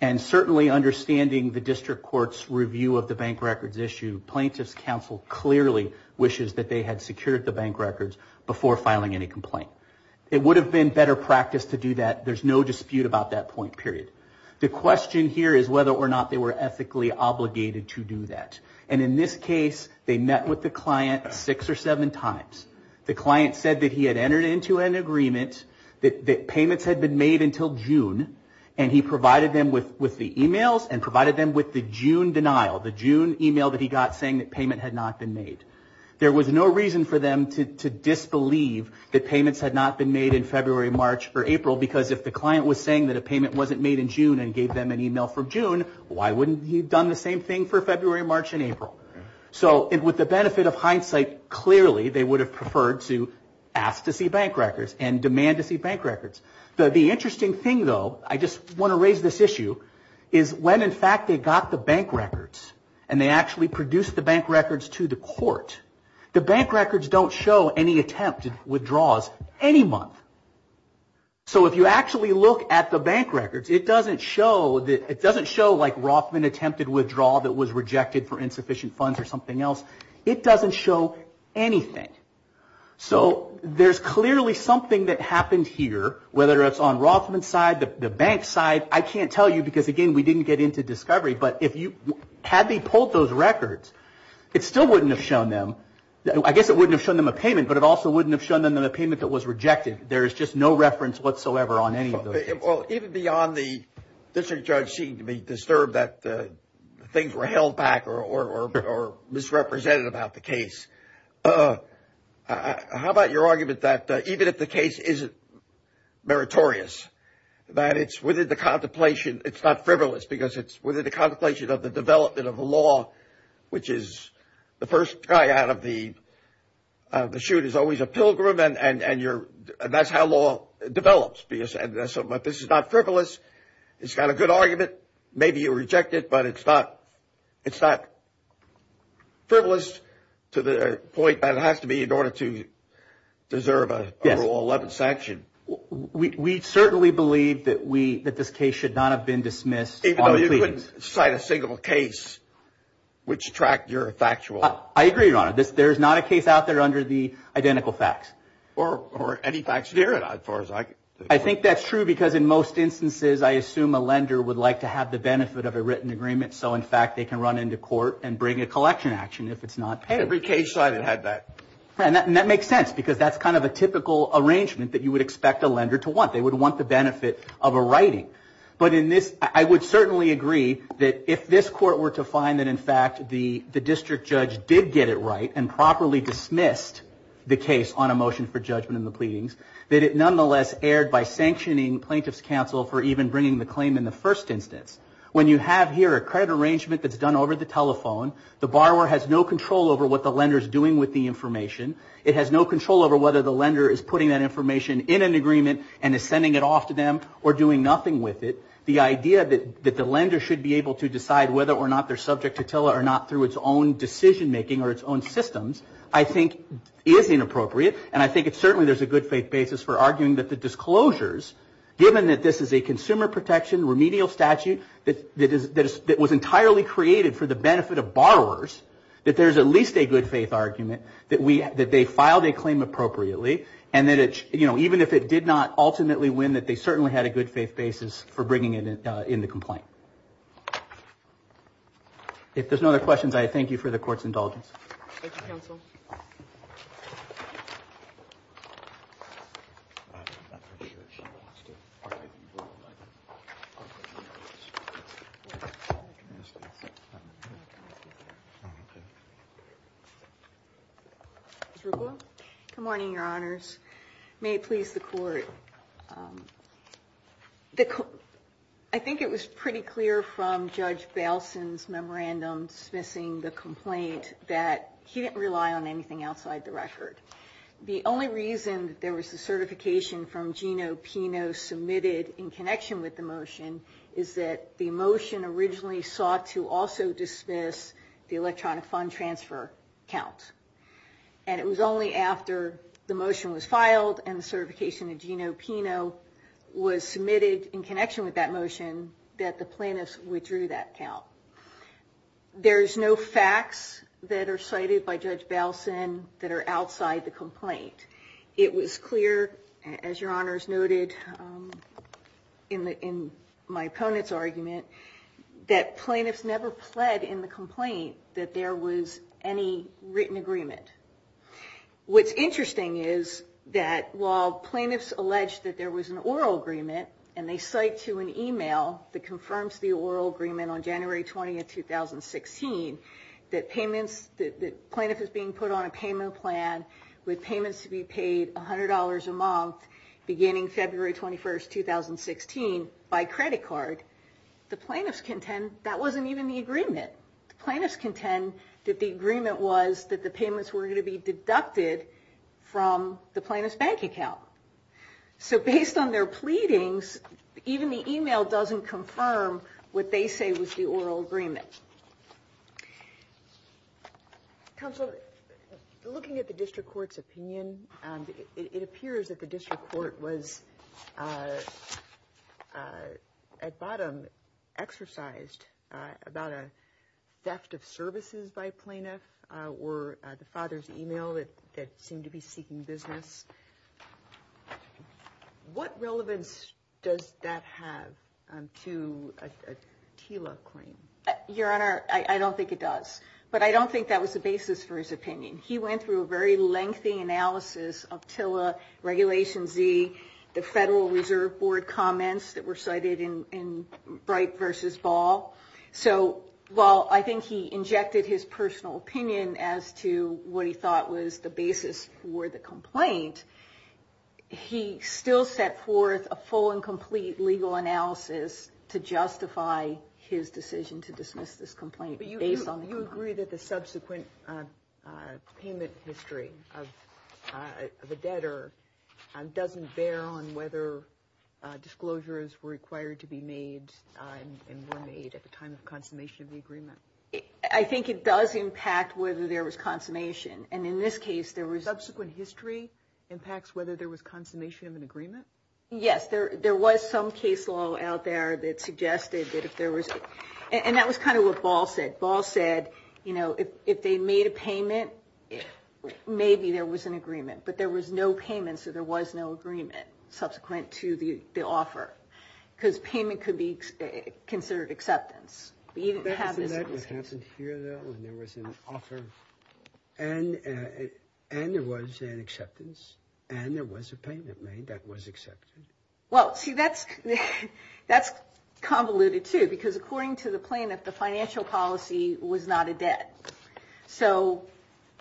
and certainly understanding the district court's review of the bank records issue, plaintiff's counsel clearly wishes that they had secured the bank records before filing any complaint. It would have been better practice to do that. There's no dispute about that point period. The question here is whether or not they were ethically obligated to do that. And in this case, they met with the client six or seven times. The client said that he had entered into an agreement, that payments had been made until June, and he provided them with the emails and provided them with the June denial, the June email that he got saying that payment had not been made. There was no reason for them to disbelieve that payments had not been made in February, March, or April because if the client was saying that a payment wasn't made in June and gave them an email from June, why wouldn't he have done the same thing for February, March, and April? So with the benefit of hindsight, clearly they would have preferred to ask to see bank records and demand to see bank records. The interesting thing, though, I just want to raise this issue, is when, in fact, they got the bank records and they actually produced the bank records to the court, the bank records don't show any attempted withdrawals any month. So if you actually look at the bank records, it doesn't show like Rothman attempted withdrawal that was rejected for insufficient funds or something else. It doesn't show anything. So there's clearly something that happened here, whether it's on Rothman's side, the bank's side. I can't tell you because, again, we didn't get into discovery, but had they pulled those records, it still wouldn't have shown them. I guess it wouldn't have shown them a payment, but it also wouldn't have shown them a payment that was rejected. There is just no reference whatsoever on any of those. Even beyond the district judge seeming to be disturbed that things were held back or misrepresented about the case, how about your argument that even if the case isn't meritorious, that it's within the contemplation, it's not frivolous, because it's within the contemplation of the development of the law, which is the first guy out of the chute is always a pilgrim, and that's how law develops. So if this is not frivolous, it's got a good argument, maybe you reject it, but it's not frivolous to the point that it has to be in order to deserve an overall 11th sanction. We certainly believe that this case should not have been dismissed. Even though you couldn't cite a single case which tracked your factual... I agree, Your Honor, that there's not a case out there under the identical facts. Or any facts therein, as far as I... I think that's true because in most instances, I assume a lender would like to have the benefit of a written agreement so in fact they can run into court and bring a collection action if it's not paid. Every case cited had that. And that makes sense because that's kind of a typical arrangement that you would expect a lender to want. They would want the benefit of a writing. But I would certainly agree that if this court were to find that, in fact, the district judge did get it right and properly dismissed the case on a motion for judgment in the pleadings, that it nonetheless erred by sanctioning plaintiff's counsel for even bringing the claim in the first instance. When you have here a credit arrangement that's done over the telephone, the borrower has no control over what the lender is doing with the information. It has no control over whether the lender is putting that information in an agreement and is sending it off to them or doing nothing with it. The idea that the lender should be able to decide whether or not they're subject to TILA or not through its own decision-making or its own systems, I think, is inappropriate. And I think certainly there's a good faith basis for arguing that the disclosures, given that this is a consumer protection remedial statute that was entirely created for the benefit of borrowers, that there's at least a good faith argument that they filed a claim appropriately and that even if it did not ultimately win, that they certainly had a good faith basis for bringing it into complaint. If there's no other questions, I thank you for the court's indulgence. Thank you, counsel. Good morning, Your Honors. I think it was pretty clear from Judge Baleson's memorandum dismissing the complaint that he didn't rely on anything outside the record. The only reason there was a certification from Gino Pino submitted in connection with the motion is that the motion originally sought to also dismiss the electronic fund transfer counts. And it was only after the motion was filed and the certification of Gino Pino was submitted in connection with that motion that the plaintiffs withdrew that count. There's no facts that are cited by Judge Baleson that are outside the complaint. It was clear, as Your Honors noted in my opponent's argument, that plaintiffs never pled in the complaint that there was any written agreement. What's interesting is that while plaintiffs alleged that there was an oral agreement and they cite to an email that confirms the oral agreement on January 20, 2016, that plaintiffs are being put on a payment plan with payments to be paid $100 a month beginning February 21, 2016 by credit card, the plaintiffs contend that wasn't even the agreement. The plaintiffs contend that the agreement was that the payments were going to be deducted from the plaintiff's bank account. So based on their pleadings, even the email doesn't confirm what they say was the oral agreement. Counsel, looking at the district court's opinion, it appears that the district court was at bottom exercised about a theft of services by plaintiffs or the father's email that seemed to be seeking business. What relevance does that have to a TILA claim? Your Honor, I don't think it does. But I don't think that was the basis for his opinion. He went through a very lengthy analysis of TILA, Regulation Z, the Federal Reserve Board comments that were cited in Bright v. Ball. So while I think he injected his personal opinion as to what he thought was the basis for the complaint, he still set forth a full and complete legal analysis to justify his decision to dismiss this complaint. Do you agree that the subsequent payment history of the debtor doesn't bear on whether disclosures were required to be made and were made at the time of confirmation of the agreement? I think it does impact whether there was confirmation. And in this case, there was... Subsequent history impacts whether there was confirmation of an agreement? Yes. There was some case law out there that suggested that if there was... And that was kind of what Ball said. Ball said, you know, if they made a payment, maybe there was an agreement. But there was no payment, so there was no agreement subsequent to the offer because payment could be considered acceptance. What happened here, though, when there was an offer and there was an acceptance and there was a payment made that was accepted? Well, see, that's convoluted, too, because according to the plaintiff, the financial policy was not a debt. So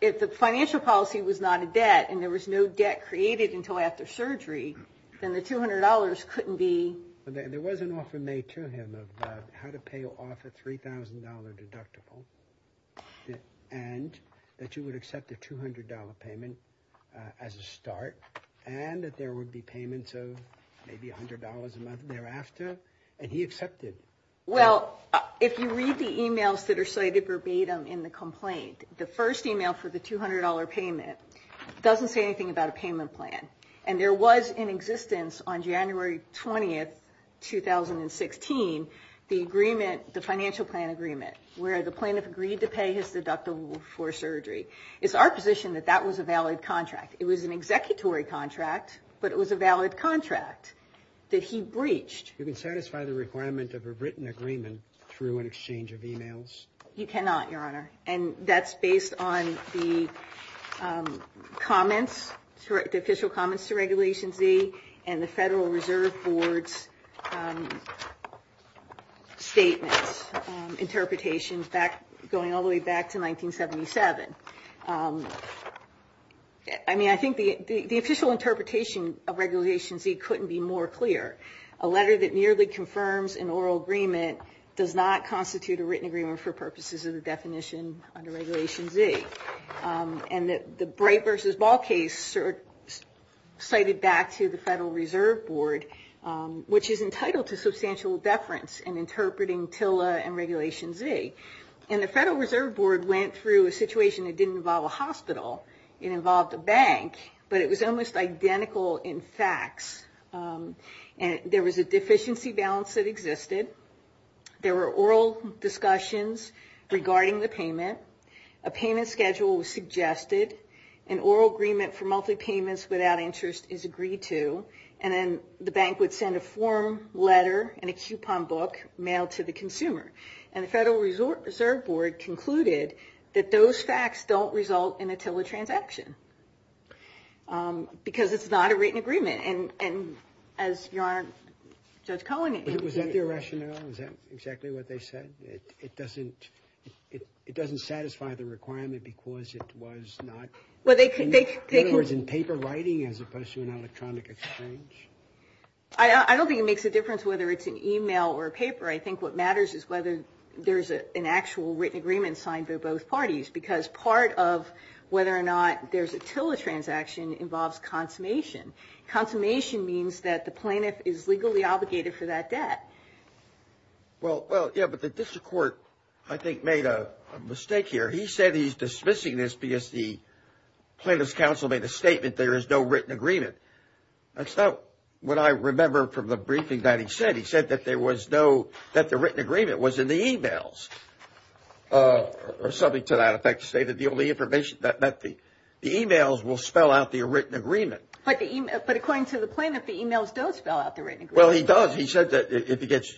if the financial policy was not a debt and there was no debt created until after surgery, then the $200 couldn't be... There was an offer made to him of how to pay off a $3,000 deductible and that you would accept the $200 payment as a start and that there would be payments of maybe $100 a month thereafter, and he accepted. Well, if you read the emails that are cited verbatim in the complaint, the first email for the $200 payment doesn't say anything about a payment plan. And there was in existence on January 20, 2016, the financial plan agreement where the plaintiff agreed to pay his deductible for surgery. It's our position that that was a valid contract. It was an executory contract, but it was a valid contract that he breached. You can satisfy the requirement of a written agreement through an exchange of emails? You cannot, Your Honor. And that's based on the comments, the official comments to Regulations V and the Federal Reserve Board's statements, interpretations going all the way back to 1977. I mean, I think the official interpretation of Regulations V couldn't be more clear. A letter that merely confirms an oral agreement does not constitute a written agreement for purposes of the definition under Regulations V. And the Breit versus Ball case cited back to the Federal Reserve Board, which is entitled to substantial deference in interpreting TILA and Regulations V. And the Federal Reserve Board went through a situation that didn't involve a hospital. It involved a bank, but it was almost identical in facts. There was a deficiency balance that existed. There were oral discussions regarding the payment. A payment schedule was suggested. An oral agreement for monthly payments without interest is agreed to. And then the bank would send a form, letter, and a coupon book mailed to the consumer. And the Federal Reserve Board concluded that those facts don't result in a TILA transaction because it's not a written agreement. And as your Honor says, Cohen. Is that the rationale? Is that exactly what they said? It doesn't satisfy the requirement because it was not in paper writing as opposed to an electronic exchange? I don't think it makes a difference whether it's an e-mail or a paper. I think what matters is whether there's an actual written agreement signed by both parties because part of whether or not there's a TILA transaction involves consummation. Consummation means that the plaintiff is legally obligated for that debt. Well, yeah, but the district court, I think, made a mistake here. He said he's dismissing this because the plaintiff's counsel made a statement there is no written agreement. That's not what I remember from the briefing that he said. He said that there was no – that the written agreement was in the e-mails. Or something to that effect to say that the only information that meant the e-mails will spell out the written agreement. But according to the plaintiff, the e-mails don't spell out the written agreement. Well, he does. He said that if he gets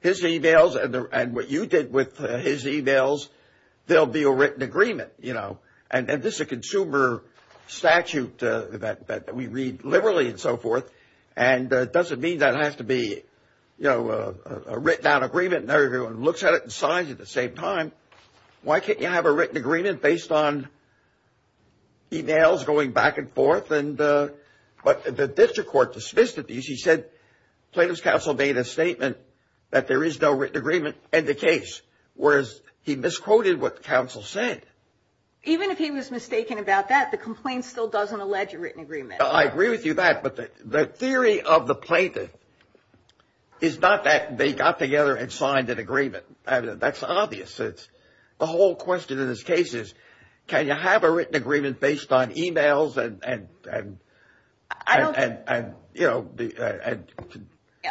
his e-mails and what you did with his e-mails, there will be a written agreement. And this is a consumer statute that we read liberally and so forth, and it doesn't mean that it has to be a written down agreement and everyone looks at it and signs at the same time. Why can't you have a written agreement based on e-mails going back and forth? But the district court dismissed it. He said the plaintiff's counsel made a statement that there is no written agreement in the case, whereas he misquoted what the counsel said. Even if he was mistaken about that, the complaint still doesn't allege a written agreement. I agree with you on that. But the theory of the plaintiff is not that they got together and signed an agreement. That's obvious. The whole question in this case is can you have a written agreement based on e-mails and, you know.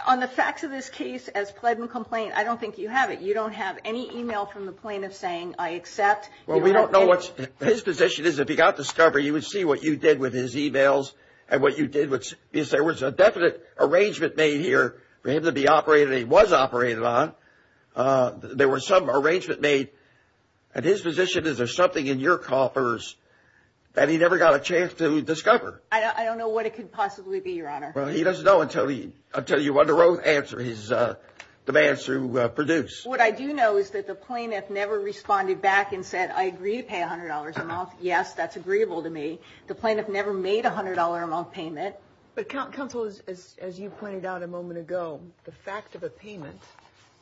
On the facts of this case, as pled in complaint, I don't think you have it. You don't have any e-mail from the plaintiff saying, I accept. Well, we don't know what his position is. If he got discovered, you would see what you did with his e-mails and what you did was there was a definite arrangement made here for him to be operated on. He was operated on. There was some arrangement made. His position is there's something in your coffers that he never got a chance to discover. I don't know what it could possibly be, Your Honor. Well, he doesn't know until you want to answer his demands through Purdue. What I do know is that the plaintiff never responded back and said, I agree to pay $100. Yes, that's agreeable to me. The plaintiff never made a $100 amount payment. But, Counsel, as you pointed out a moment ago, the fact of a payment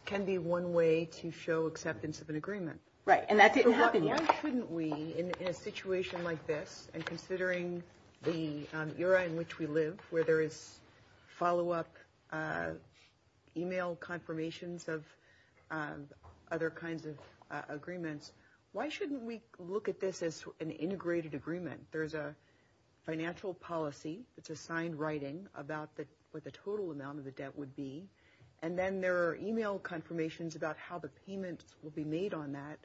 can be one way to show acceptance of an agreement. Right, and that didn't happen yet. Why shouldn't we, in a situation like this, and considering the era in which we live, where there is follow-up e-mail confirmations of other kinds of agreements, why shouldn't we look at this as an integrated agreement? There's a financial policy, which is signed writing about what the total amount of the debt would be, and then there are e-mail confirmations about how the payments will be made on that,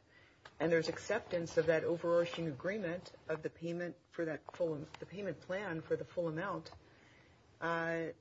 and there's acceptance of that overarching agreement of the payment plan for the full amount that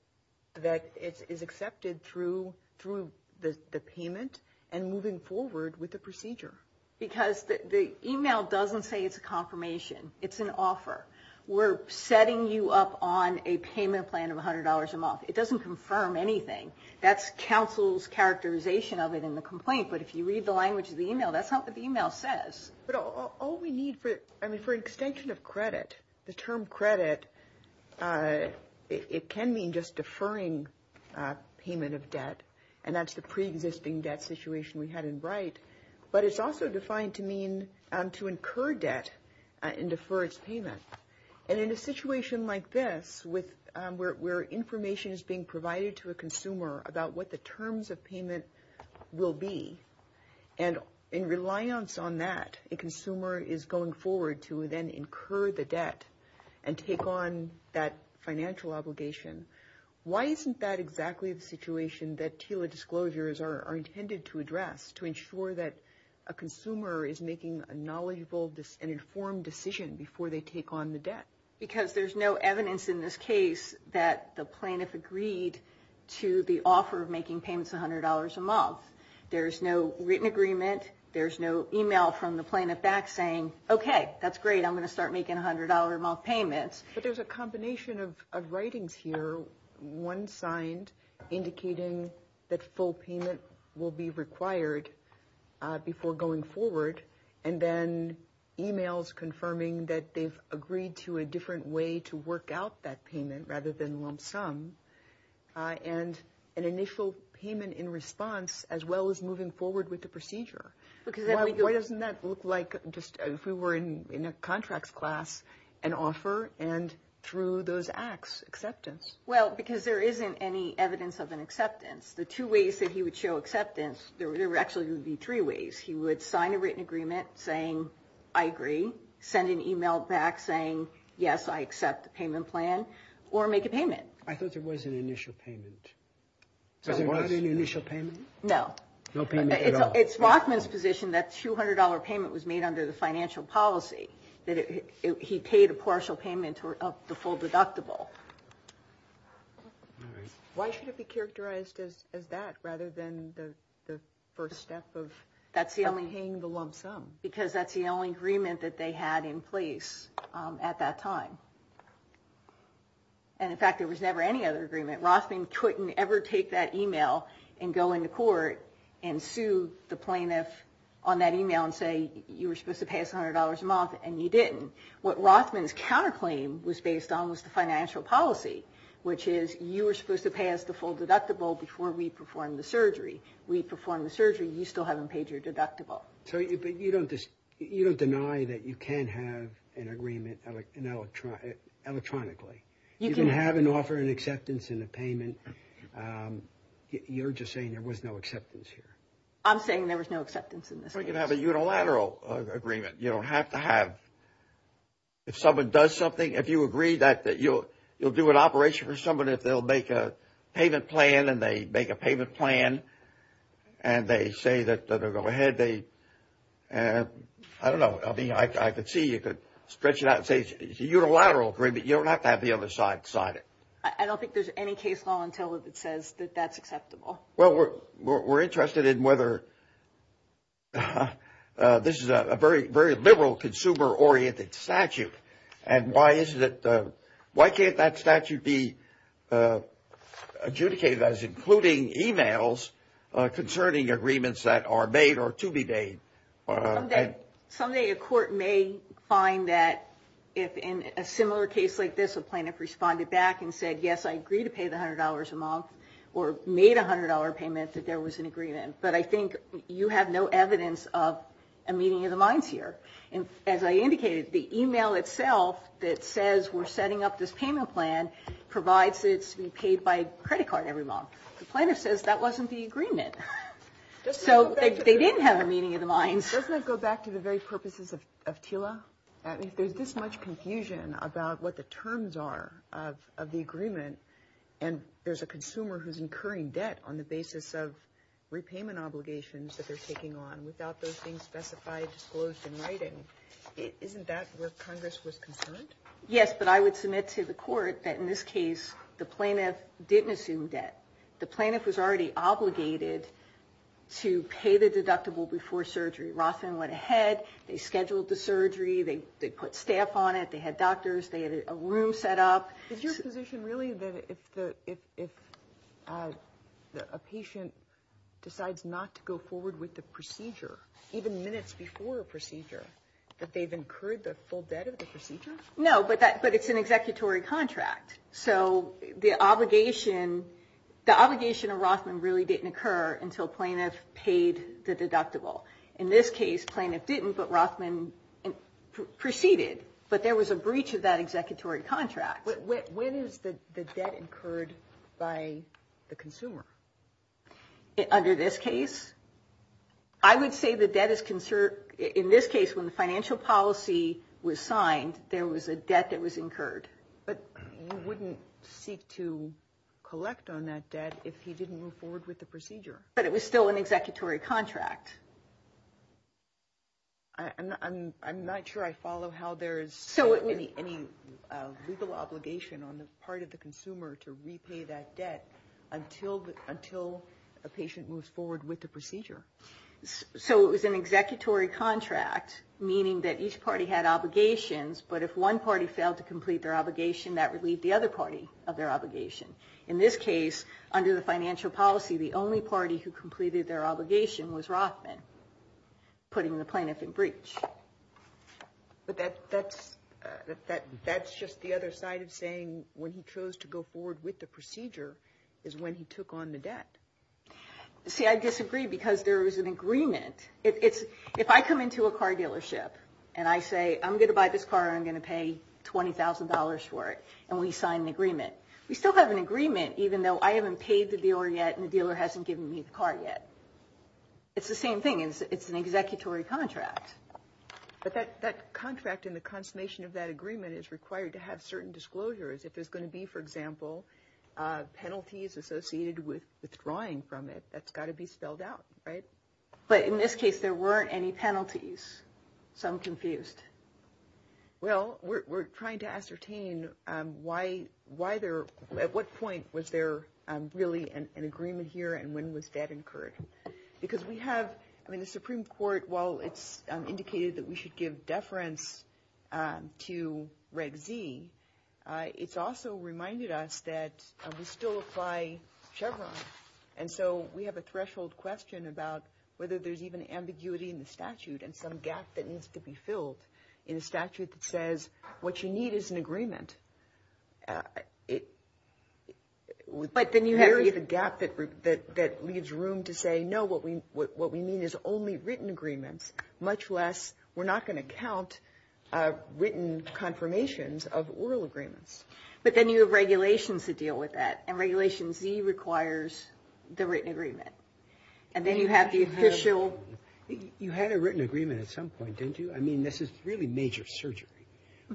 is accepted through the payment and moving forward with the procedure. Because the e-mail doesn't say it's a confirmation. It's an offer. We're setting you up on a payment plan of $100 a month. It doesn't confirm anything. That's Counsel's characterization other than the complaint, but if you read the language of the e-mail, that's not what the e-mail says. But all we need for an extension of credit, the term credit, it can mean just deferring payment of debt, and that's the pre-existing debt situation we had in Bright, but it's also defined to mean to incur debt and defer its payment. And in a situation like this, where information is being provided to a consumer about what the terms of payment will be, and in reliance on that a consumer is going forward to then incur the debt and take on that financial obligation, why isn't that exactly the situation that TILA disclosures are intended to address to ensure that a consumer is making a knowledgeable and informed decision before they take on the debt? Because there's no evidence in this case that the plaintiff agreed to the offer of making payments of $100 a month. There's no written agreement. There's no e-mail from the plaintiff back saying, okay, that's great. I'm going to start making $100 a month payments. But there's a combination of writings here, one signed, indicating that full payment will be required before going forward, and then e-mails confirming that they've agreed to a different way to work out that payment rather than lump sum, and an initial payment in response as well as moving forward with the procedure. Why doesn't that look like just if we were in a contracts class, an offer and through those acts, acceptance? Well, because there isn't any evidence of an acceptance. The two ways that he would show acceptance, there actually would be three ways. He would sign a written agreement saying, I agree, send an e-mail back saying, yes, I accept the payment plan, or make a payment. I thought there was an initial payment. Was there not an initial payment? No. No payment at all. It's Wachman's position that $200 payment was made under the financial policy, that he paid a partial payment of the full deductible. Why should it be characterized as that rather than the first step of paying the lump sum? Because that's the only agreement that they had in place at that time. And, in fact, there was never any other agreement. Wachman couldn't ever take that e-mail and go into court and sue the plaintiff on that e-mail and say, you were supposed to pay us $100 a month, and you didn't. What Wachman's counterclaim was based on was the financial policy, which is you were supposed to pay us the full deductible before we performed the surgery. We performed the surgery. You still haven't paid your deductible. But you don't deny that you can have an agreement electronically. You can have an offer and acceptance and a payment. You're just saying there was no acceptance here. I'm saying there was no acceptance in this case. I don't think you'd have a unilateral agreement. You don't have to have. If someone does something, if you agree that you'll do an operation for someone, if they'll make a payment plan and they make a payment plan and they say that they'll go ahead, they, I don't know. I mean, I could see you could stretch it out and say it's a unilateral agreement. You don't have to have the other side sign it. I don't think there's any case law until it says that that's acceptable. Well, we're interested in whether this is a very liberal consumer-oriented statute. And why can't that statute be adjudicated as including e-mails concerning agreements that are made or to be made? Someday a court may find that in a similar case like this, the plaintiff responded back and said, yes, I agree to pay the $100 a month or made a $100 payment that there was an agreement. But I think you have no evidence of a meeting of the minds here. And as I indicated, the e-mail itself that says we're setting up this payment plan provides it to be paid by credit card every month. The plaintiff says that wasn't the agreement. So they didn't have a meeting of the minds. Doesn't it go back to the very purposes of TILA? There's this much confusion about what the terms are of the agreement. And there's a consumer who's incurring debt on the basis of repayment obligations that they're taking on without those things specified to disclose in writing. Isn't that where Congress was concerned? Yes, but I would submit to the court that in this case the plaintiff didn't assume debt. The plaintiff was already obligated to pay the deductible before surgery. Rossman went ahead. They scheduled the surgery. They put staff on it. They had doctors. They had a room set up. Is your position really that if a patient decides not to go forward with the procedure, even minutes before a procedure, that they've incurred the full debt of the procedure? No, but it's an executory contract. So the obligation of Rossman really didn't occur until plaintiff paid the deductible. In this case, plaintiff didn't, but Rossman proceeded. But there was a breach of that executory contract. When is the debt incurred by the consumer? Under this case? I would say the debt is conserved. In this case, when the financial policy was signed, there was a debt that was incurred. But you wouldn't seek to collect on that debt if he didn't move forward with the procedure. But it was still an executory contract. I'm not sure I follow how there's any legal obligation on the part of the consumer to repay that debt until a patient moves forward with the procedure. So it was an executory contract, meaning that each party had obligations, but if one party failed to complete their obligation, that would leave the other party of their obligation. In this case, under the financial policy, the only party who completed their obligation was Rossman, putting the plaintiff in breach. But that's just the other side of saying when he chose to go forward with the procedure is when he took on the debt. See, I disagree because there is an agreement. If I come into a car dealership and I say I'm going to buy this car, I'm going to pay $20,000 for it, and we sign the agreement, we still have an agreement even though I haven't paid the dealer yet and the dealer hasn't given me the car yet. It's the same thing. It's an executory contract. But that contract and the consummation of that agreement is required to have certain disclosures. If there's going to be, for example, penalties associated with withdrawing from it, that's got to be spelled out, right? But in this case, there weren't any penalties, so I'm confused. Well, we're trying to ascertain at what point was there really an agreement here and when was that incurred? Because we have, I mean, the Supreme Court, while it's indicated that we should give deference to Reg V, it's also reminded us that we still apply Chevron. And so we have a threshold question about whether there's even ambiguity in the statute and some gap that needs to be filled in the statute that says what you need is an agreement. We have a gap that leaves room to say, no, what we mean is only written agreements, much less we're not going to count written confirmations of oral agreements. But then you have regulations that deal with that. And Regulation V requires the written agreement. And then you have the official. You had a written agreement at some point, didn't you? I mean, this is really major surgery.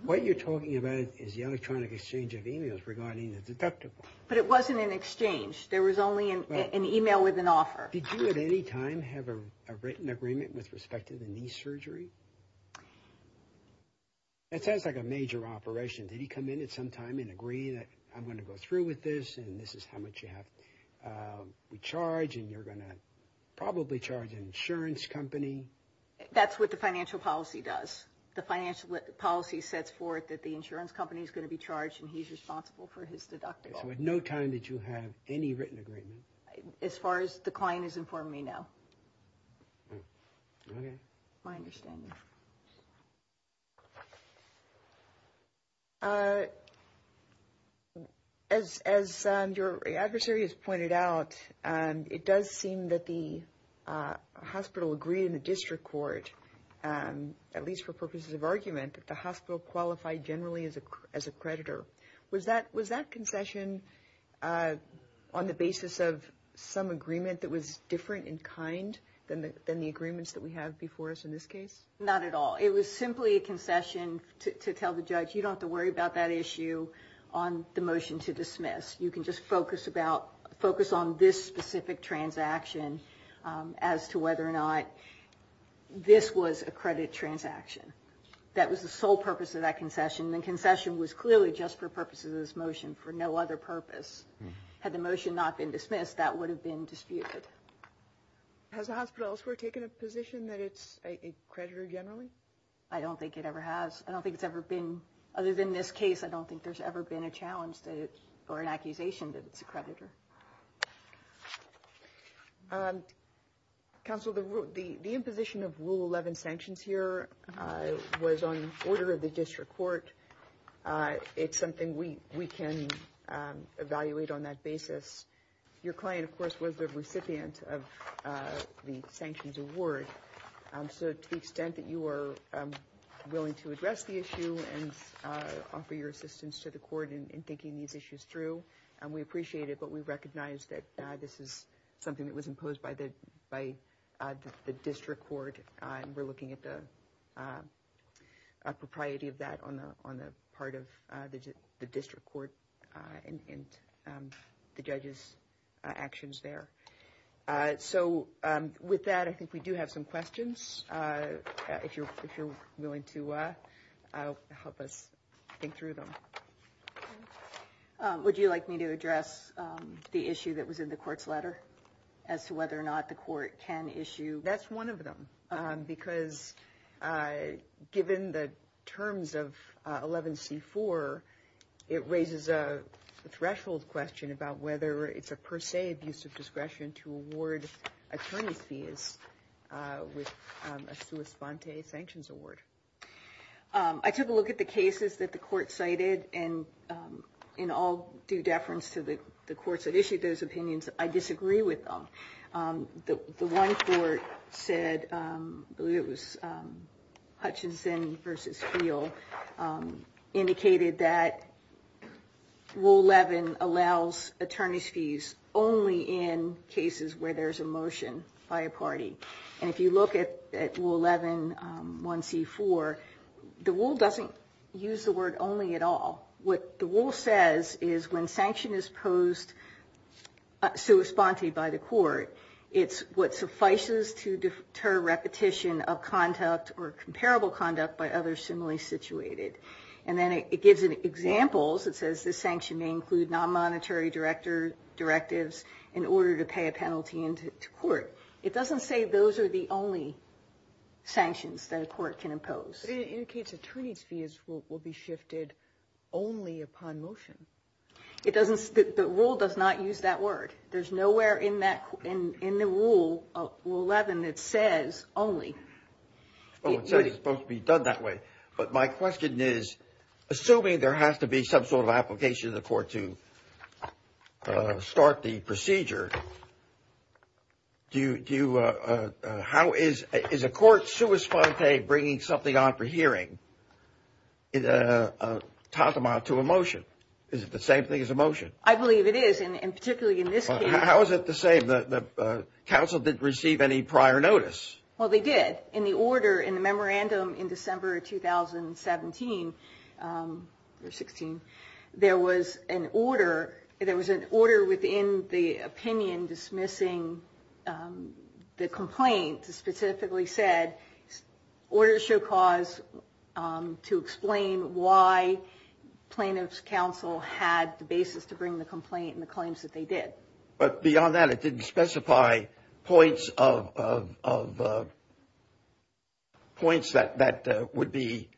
What you're talking about is the electronic exchange of e-mails regarding the deductible. But it wasn't an exchange. There was only an e-mail with an offer. Did you at any time have a written agreement with respect to the knee surgery? That sounds like a major operation. Did he come in at some time and agree that I'm going to go through with this and this is how much you have to charge and you're going to probably charge an insurance company? That's what the financial policy does. The financial policy sets forth that the insurance company is going to be charged and he's responsible for his deductible. So at no time did you have any written agreement? As far as the client is informing me now. Okay. My understanding. As your adversary has pointed out, it does seem that the hospital agreed in the district court, at least for purposes of argument, that the hospital qualified generally as a creditor. Was that confession on the basis of some agreement that was different in kind than the agreements that we have before us in this case? Not at all. It was simply a confession to tell the judge, you don't have to worry about that issue on the motion to dismiss. You can just focus on this specific transaction as to whether or not this was a credit transaction. That was the sole purpose of that confession. The confession was clearly just for purposes of this motion for no other purpose. Had the motion not been dismissed, that would have been disputed. Has the hospital elsewhere taken a position that it's a creditor generally? I don't think it ever has. I don't think it's ever been, other than this case, I don't think there's ever been a challenge or an accusation that it's a creditor. Counsel, the imposition of Rule 11 sanctions here was on order of the district court. It's something we can evaluate on that basis. Your client, of course, was the recipient of the sanctions award, so to the extent that you are willing to address the issue and offer your assistance to the court in thinking these issues through, we appreciate it, but we recognize that this is something that was imposed by the district court. We're looking at the propriety of that on the part of the district court and the judge's actions there. With that, I think we do have some questions, if you're willing to help us think through them. Would you like me to address the issue that was in the court's letter as to whether or not the court can issue? That's one of them, because given the terms of 11C4, it raises a threshold question about whether it's a per se abuse of discretion to award attorneys with a sua sponte sanctions award. I took a look at the cases that the court cited, and in all due deference to the courts that issued those opinions, I disagree with them. The one court said, I believe it was Hutchinson v. Steele, indicated that Rule 11 allows attorney's fees only in cases where there's a motion by a party. If you look at Rule 11, 1C4, the rule doesn't use the word only at all. What the rule says is when sanction is posed sua sponte by the court, it's what suffices to deter repetition of conduct or comparable conduct by others similarly situated. Then it gives examples. It says this sanction may include non-monetary directives in order to pay a penalty into court. It doesn't say those are the only sanctions that a court can impose. In case attorney's fees will be shifted only upon motion. The rule does not use that word. There's nowhere in the Rule 11 that says only. It says it's supposed to be done that way. But my question is, assuming there has to be some sort of application to the court to start the procedure, how is a court sua sponte bringing something on for hearing? Talk about to a motion. Is it the same thing as a motion? I believe it is, and particularly in this case. How is it the same? The counsel didn't receive any prior notice. Well, they did. In the order in the memorandum in December 2017, there was an order within the opinion dismissing the complaint that statistically said orders should cause to explain why plaintiff's counsel had the basis to bring the complaint and the claims that they did. But beyond that, it didn't specify points that would be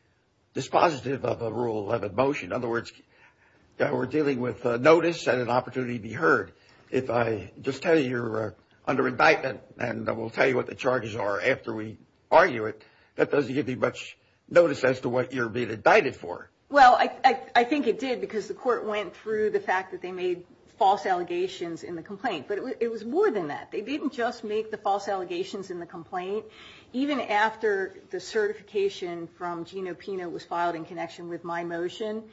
dispositive of a Rule 11 motion. In other words, we're dealing with notice and an opportunity to be heard. If I just tell you you're under indictment and I will tell you what the charges are after we argue it, that doesn't give you much notice as to what you're being indicted for. Well, I think it did because the court went through the fact that they made false allegations in the complaint. But it was more than that. They didn't just make the false allegations in the complaint. Even after the certification from Gino Pino was filed in connection with my motion,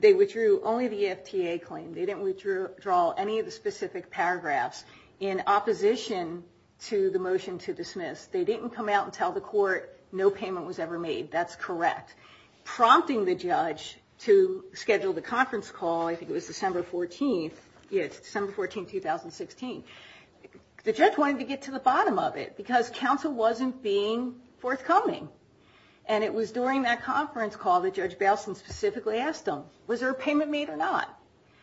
they withdrew only the FTA claim. They didn't withdraw any of the specific paragraphs in opposition to the motion to dismiss. They didn't come out and tell the court no payment was ever made. That's correct. That's prompting the judge to schedule the conference call. I think it was December 14, 2016. The judge wanted to get to the bottom of it because counsel wasn't being forthcoming. And it was during that conference call that Judge Balson specifically asked them, was there a payment made or not?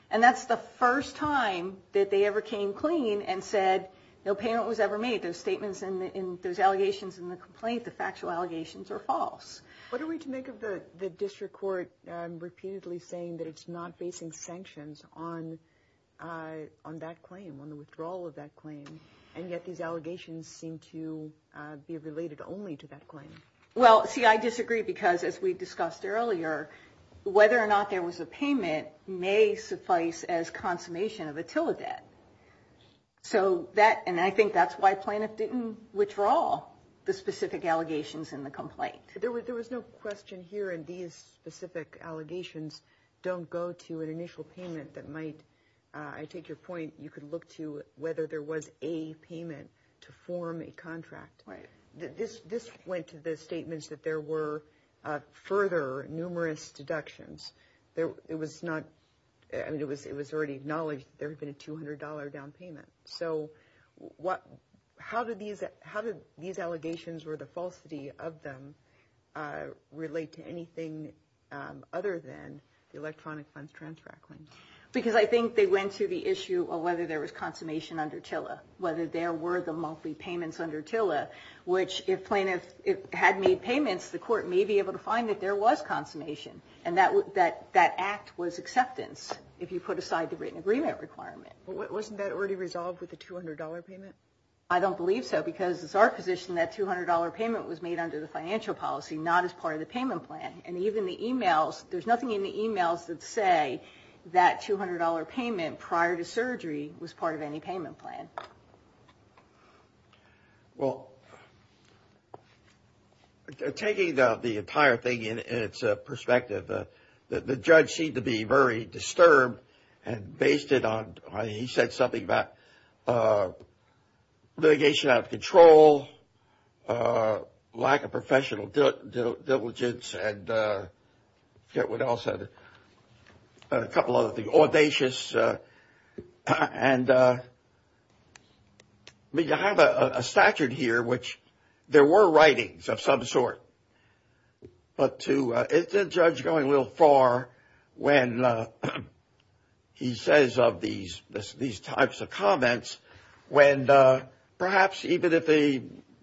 And that's the first time that they ever came clean and said no payment was ever made. Those allegations in the complaint, the factual allegations, are false. What are we to make of the district court repeatedly saying that it's not facing sanctions on that claim, on the withdrawal of that claim, and yet these allegations seem to be related only to that claim? Well, see, I disagree because, as we discussed earlier, whether or not there was a payment may suffice as consummation of a TILA debt. And I think that's why Planot didn't withdraw the specific allegations in the complaint. There was no question here in these specific allegations, don't go to an initial payment that might, I take your point, you could look to whether there was a payment to form a contract. This went to the statements that there were further numerous deductions. It was already acknowledged that there had been a $200 down payment. So how did these allegations or the falsity of them relate to anything other than the electronic funds transfer? Because I think they went to the issue of whether there was consummation under TILA, whether there were the multi-payments under TILA, which if Planot had made payments, the court may be able to find that there was consummation. And that act was acceptance if you put aside the written agreement requirement. But wasn't that already resolved with the $200 payment? I don't believe so because it's our position that $200 payment was made under the financial policy, not as part of the payment plan. And even the emails, there's nothing in the emails that say that $200 payment prior to surgery was part of any payment plan. Well, taking the entire thing in its perspective, the judge seemed to be very disturbed and based it on, I mean, he said something about litigation out of control, lack of professional diligence, and what else, a couple other things, audacious. And we have a statute here which there were writings of some sort, but to the judge going a little far when he says these types of comments, when perhaps even if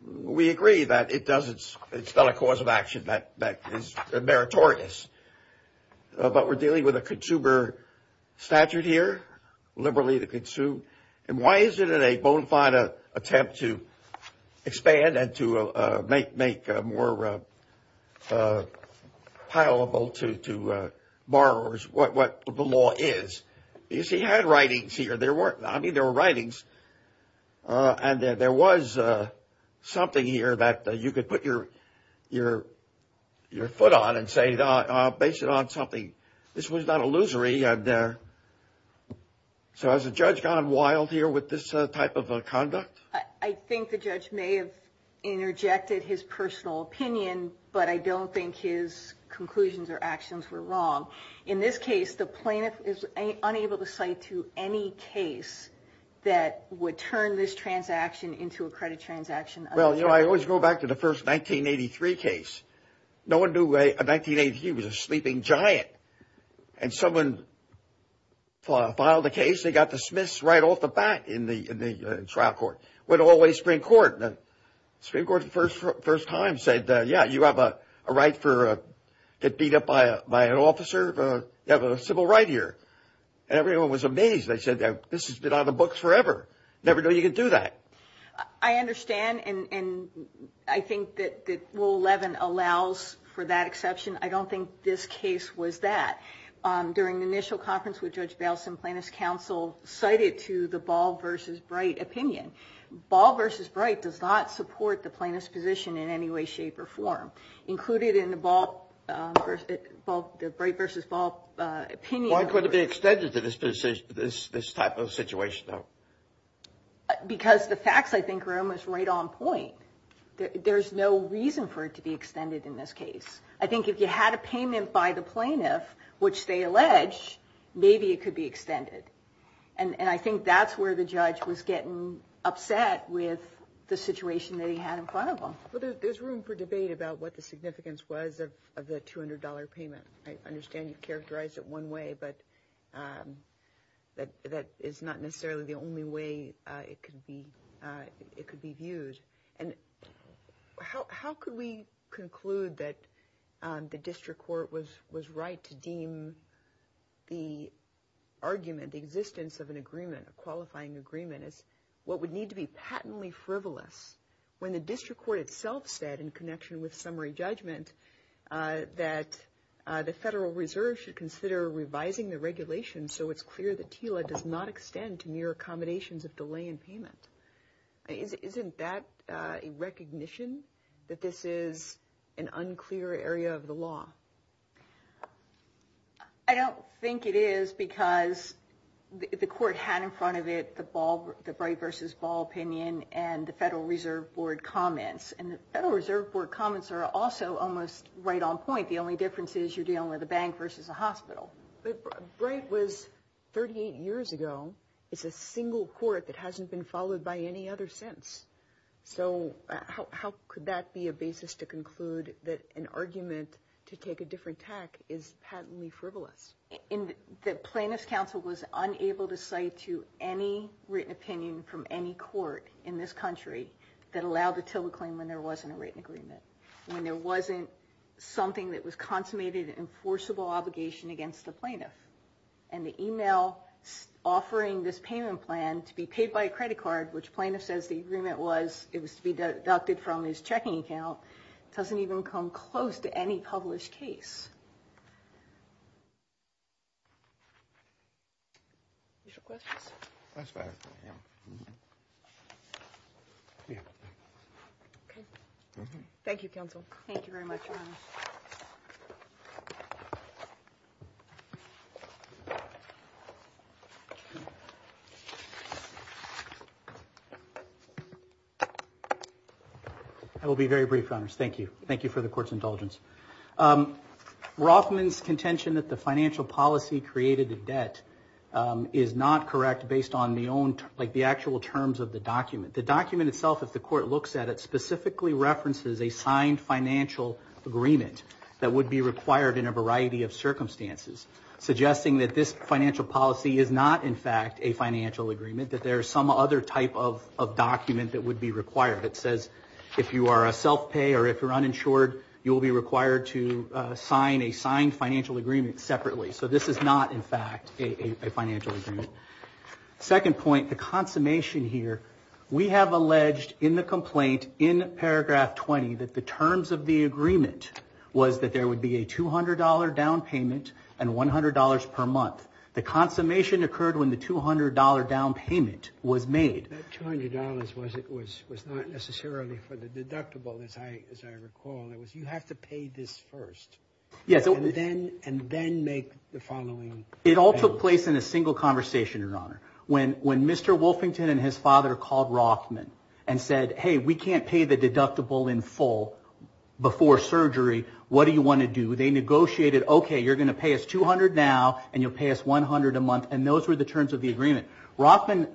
we agree that it's not a cause of action, that is meritorious. But we're dealing with a consumer statute here, liberally to consume. And why is it in a bona fide attempt to expand and to make more palatable to borrowers what the law is? Because he had writings here. I mean, there were writings. And there was something here that you could put your foot on and say based it on something. This was not illusory. So has the judge gone wild here with this type of conduct? I think the judge may have interjected his personal opinion, but I don't think his conclusions or actions were wrong. In this case, the plaintiff is unable to cite to any case that would turn this transaction into a credit transaction. Well, you know, I always go back to the first 1983 case. No one knew a 1983 was a sleeping giant. And someone filed a case. They got dismissed right off the bat in the trial court, went all the way to Supreme Court. And the Supreme Court the first time said, yeah, you have a right to beat up by an officer. You have a civil right here. And everyone was amazed. They said, this has been on the books forever. Never knew you could do that. I understand. And I think that Rule 11 allows for that exception. I don't think this case was that. During the initial conference with Judge Balsam, plaintiff's counsel cited to the Ball v. Bright opinion. Ball v. Bright does not support the plaintiff's position in any way, shape, or form. Included in the Bright v. Ball opinion. Why would it be extended to this type of situation, though? Because the facts, I think, are almost right on point. There's no reason for it to be extended in this case. I think if you had a payment by the plaintiff, which they allege, maybe it could be extended. And I think that's where the judge was getting upset with the situation that he had in front of him. There's room for debate about what the significance was of the $200 payment. I understand you characterized it one way, but that is not necessarily the only way it could be used. How could we conclude that the district court was right to deem the argument, the existence of an agreement, a qualifying agreement as what would need to be patently frivolous when the district court itself said, in connection with summary judgment, that the Federal Reserve should consider reviving the regulation so it's clear that TILA does not extend to mere accommodations of delay in payment. Isn't that a recognition that this is an unclear area of the law? I don't think it is because the court had in front of it the Braith versus Ball opinion and the Federal Reserve Board comments. And the Federal Reserve Board comments are also almost right on point. The only difference is you're dealing with a bank versus a hospital. Braith was 38 years ago. It's a single court that hasn't been followed by any other since. So how could that be a basis to conclude that an argument to take a different tack is patently frivolous? The plaintiff's counsel was unable to cite to any written opinion from any court in this country that allowed the TILA claim when there wasn't a written agreement. I mean, there wasn't something that was consummated enforceable obligation against the plaintiff. And the email offering this payment plan to be paid by a credit card, which plaintiff says the agreement was, it was to be deducted from his checking account, doesn't even come close to any published case. Any other questions? That's better. Thank you, counsel. Thank you very much, Your Honor. I will be very brief, Your Honor. Thank you. Thank you for the court's indulgence. Rothman's contention that the financial policy created the debt is not correct based on the actual terms of the document. The document itself, if the court looks at it, specifically references a signed financial agreement that would be required in a variety of circumstances, suggesting that this financial policy is not, in fact, a financial agreement, that there is some other type of document that would be required. That says if you are a self-pay or if you're uninsured, you will be required to sign a signed financial agreement separately. So this is not, in fact, a financial agreement. Second point, the consummation here, we have alleged in the complaint in paragraph 20 that the terms of the agreement was that there would be a $200 down payment and $100 per month. The consummation occurred when the $200 down payment was made. That $200 was not necessarily for the deductible, as I recall. It was you have to pay this first and then make the following payment. It all took place in a single conversation, Your Honor. When Mr. Wolfington and his father called Rothman and said, hey, we can't pay the deductible in full before surgery. What do you want to do? They negotiated, okay, you're going to pay us $200 now and you'll pay us $100 a month, and those were the terms of the agreement. Rothman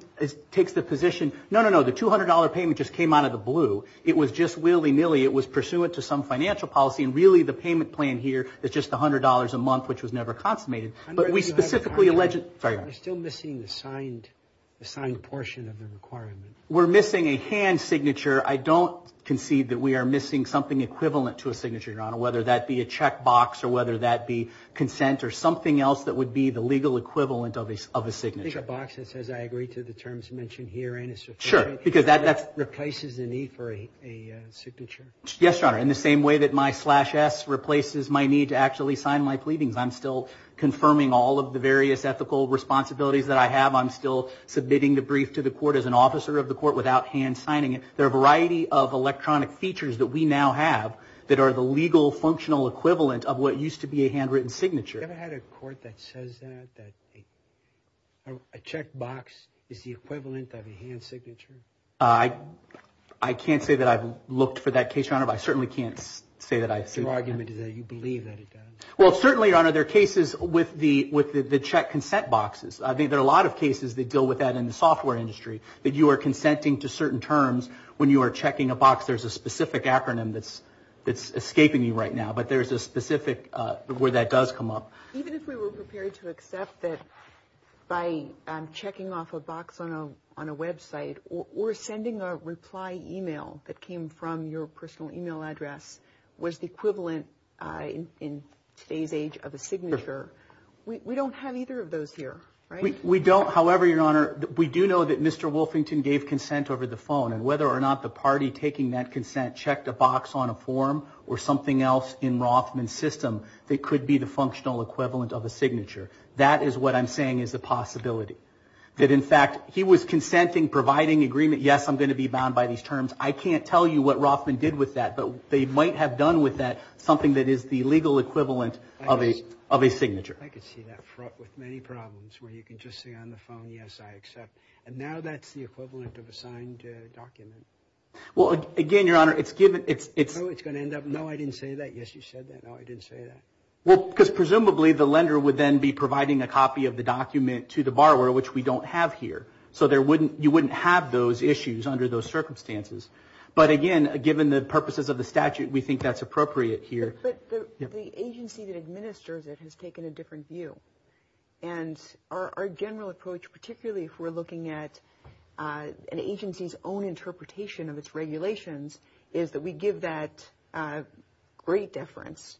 takes the position, no, no, no, the $200 payment just came out of the blue. It was just willy-nilly. It was pursuant to some financial policy, and really the payment plan here is just $100 a month, which was never consummated. But we specifically alleged – sorry. We're still missing the signed portion of the requirement. We're missing a hand signature. I don't concede that we are missing something equivalent to a signature, Your Honor, whether that be a checkbox or whether that be consent or something else that would be the legal equivalent of a signature. I think a box that says I agree to the terms mentioned here and a certificate. Sure, because that replaces the need for a signature. Yes, Your Honor. In the same way that my slash S replaces my need to actually sign my pleadings, I'm still confirming all of the various ethical responsibilities that I have. I'm still submitting the brief to the court as an officer of the court without hand signing it. There are a variety of electronic features that we now have that are the legal functional equivalent of what used to be a handwritten signature. Have you ever had a court that says that, that a checkbox is the equivalent of a hand signature? I can't say that I've looked for that case, Your Honor, but I certainly can't say that I've – Your argument is that you believe that it does. Well, certainly, Your Honor, there are cases with the check consent boxes. I think there are a lot of cases that deal with that in the software industry that you are consenting to certain terms when you are checking a box. There's a specific acronym that's escaping you right now, but there's a specific way that does come up. Even if we were prepared to accept that by checking off a box on a website or sending a reply email that came from your personal email address was the equivalent in today's age of a signature, we don't have either of those here, right? We don't, however, Your Honor, we do know that Mr. Wolfington gave consent over the phone, and whether or not the party taking that consent checked a box on a form or something else in Rothman's system that could be the functional equivalent of a signature. That is what I'm saying is the possibility. That, in fact, he was consenting, providing agreement, yes, I'm going to be bound by these terms. I can't tell you what Rothman did with that, but they might have done with that something that is the legal equivalent of a signature. I can see that with many problems where you can just say on the phone, yes, I accept. And now that's the equivalent of a signed document. Well, again, Your Honor, it's given. So it's going to end up, no, I didn't say that. Yes, you said that. No, I didn't say that. Well, because presumably the lender would then be providing a copy of the document to the borrower, which we don't have here. So you wouldn't have those issues under those circumstances. But, again, given the purposes of the statute, we think that's appropriate here. But the agency that administers it has taken a different view. And our general approach, particularly if we're looking at an agency's own interpretation of its regulations, is that we give that great deference,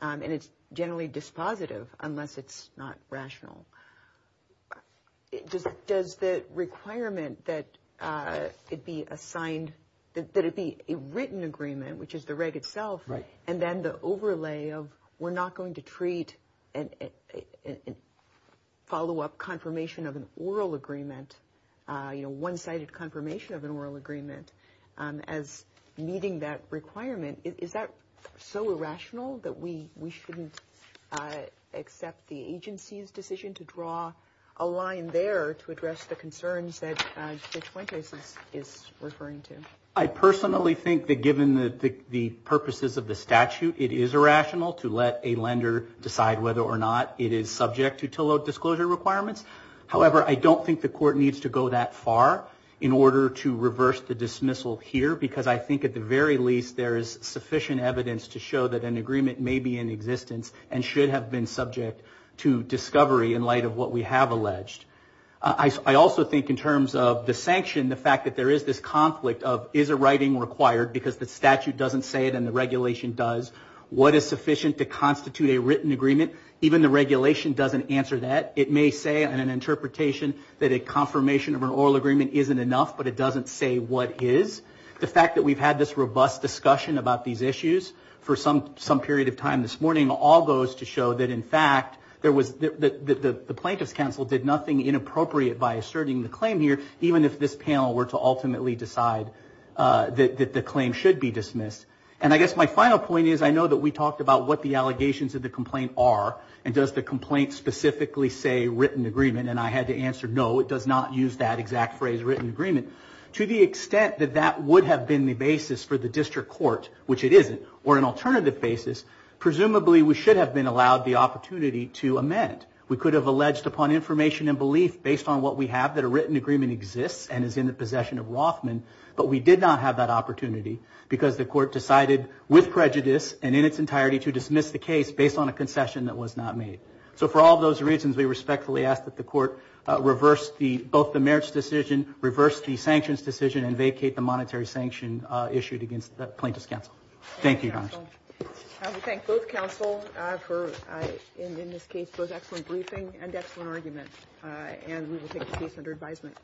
and it's generally dispositive unless it's not rational. Does the requirement that it be a written agreement, which is the reg itself, and then the overlay of we're not going to treat a follow-up confirmation of an oral agreement, you know, one-sided confirmation of an oral agreement, as meeting that requirement, is that so irrational that we shouldn't accept the agency's decision to draw a line there to address the concerns that Judge Fuente is referring to? I personally think that given the purposes of the statute, it is irrational to let a lender decide whether or not it is subject to Tillow disclosure requirements. However, I don't think the court needs to go that far in order to reverse the dismissal here, because I think at the very least there is sufficient evidence to show that an agreement may be in existence and should have been subject to discovery in light of what we have alleged. I also think in terms of the sanction, the fact that there is this conflict of, is a writing required because the statute doesn't say it and the regulation does? What is sufficient to constitute a written agreement? Even the regulation doesn't answer that. It may say in an interpretation that a confirmation of an oral agreement isn't enough, but it doesn't say what is. The fact that we've had this robust discussion about these issues for some period of time this morning, all goes to show that in fact the plaintiff's counsel did nothing inappropriate by asserting the claim here, even if this panel were to ultimately decide that the claim should be dismissed. And I guess my final point is I know that we talked about what the allegations of the complaint are, and does the complaint specifically say written agreement? And I had to answer no, it does not use that exact phrase, written agreement. To the extent that that would have been the basis for the district court, which it isn't, or an alternative basis, presumably we should have been allowed the opportunity to amend. We could have alleged upon information and belief based on what we have, that a written agreement exists and is in the possession of Rothman, but we did not have that opportunity because the court decided with prejudice and in its entirety to dismiss the case based on a concession that was not made. So for all those reasons, we respectfully ask that the court reverse both the marriage decision, reverse the sanctions decision, and vacate the monetary sanction issued against the plaintiff's counsel. Thank you, Your Honor. I would thank both counsel for, in this case, both excellent briefing and excellent arguments. And we will take the case under advisement.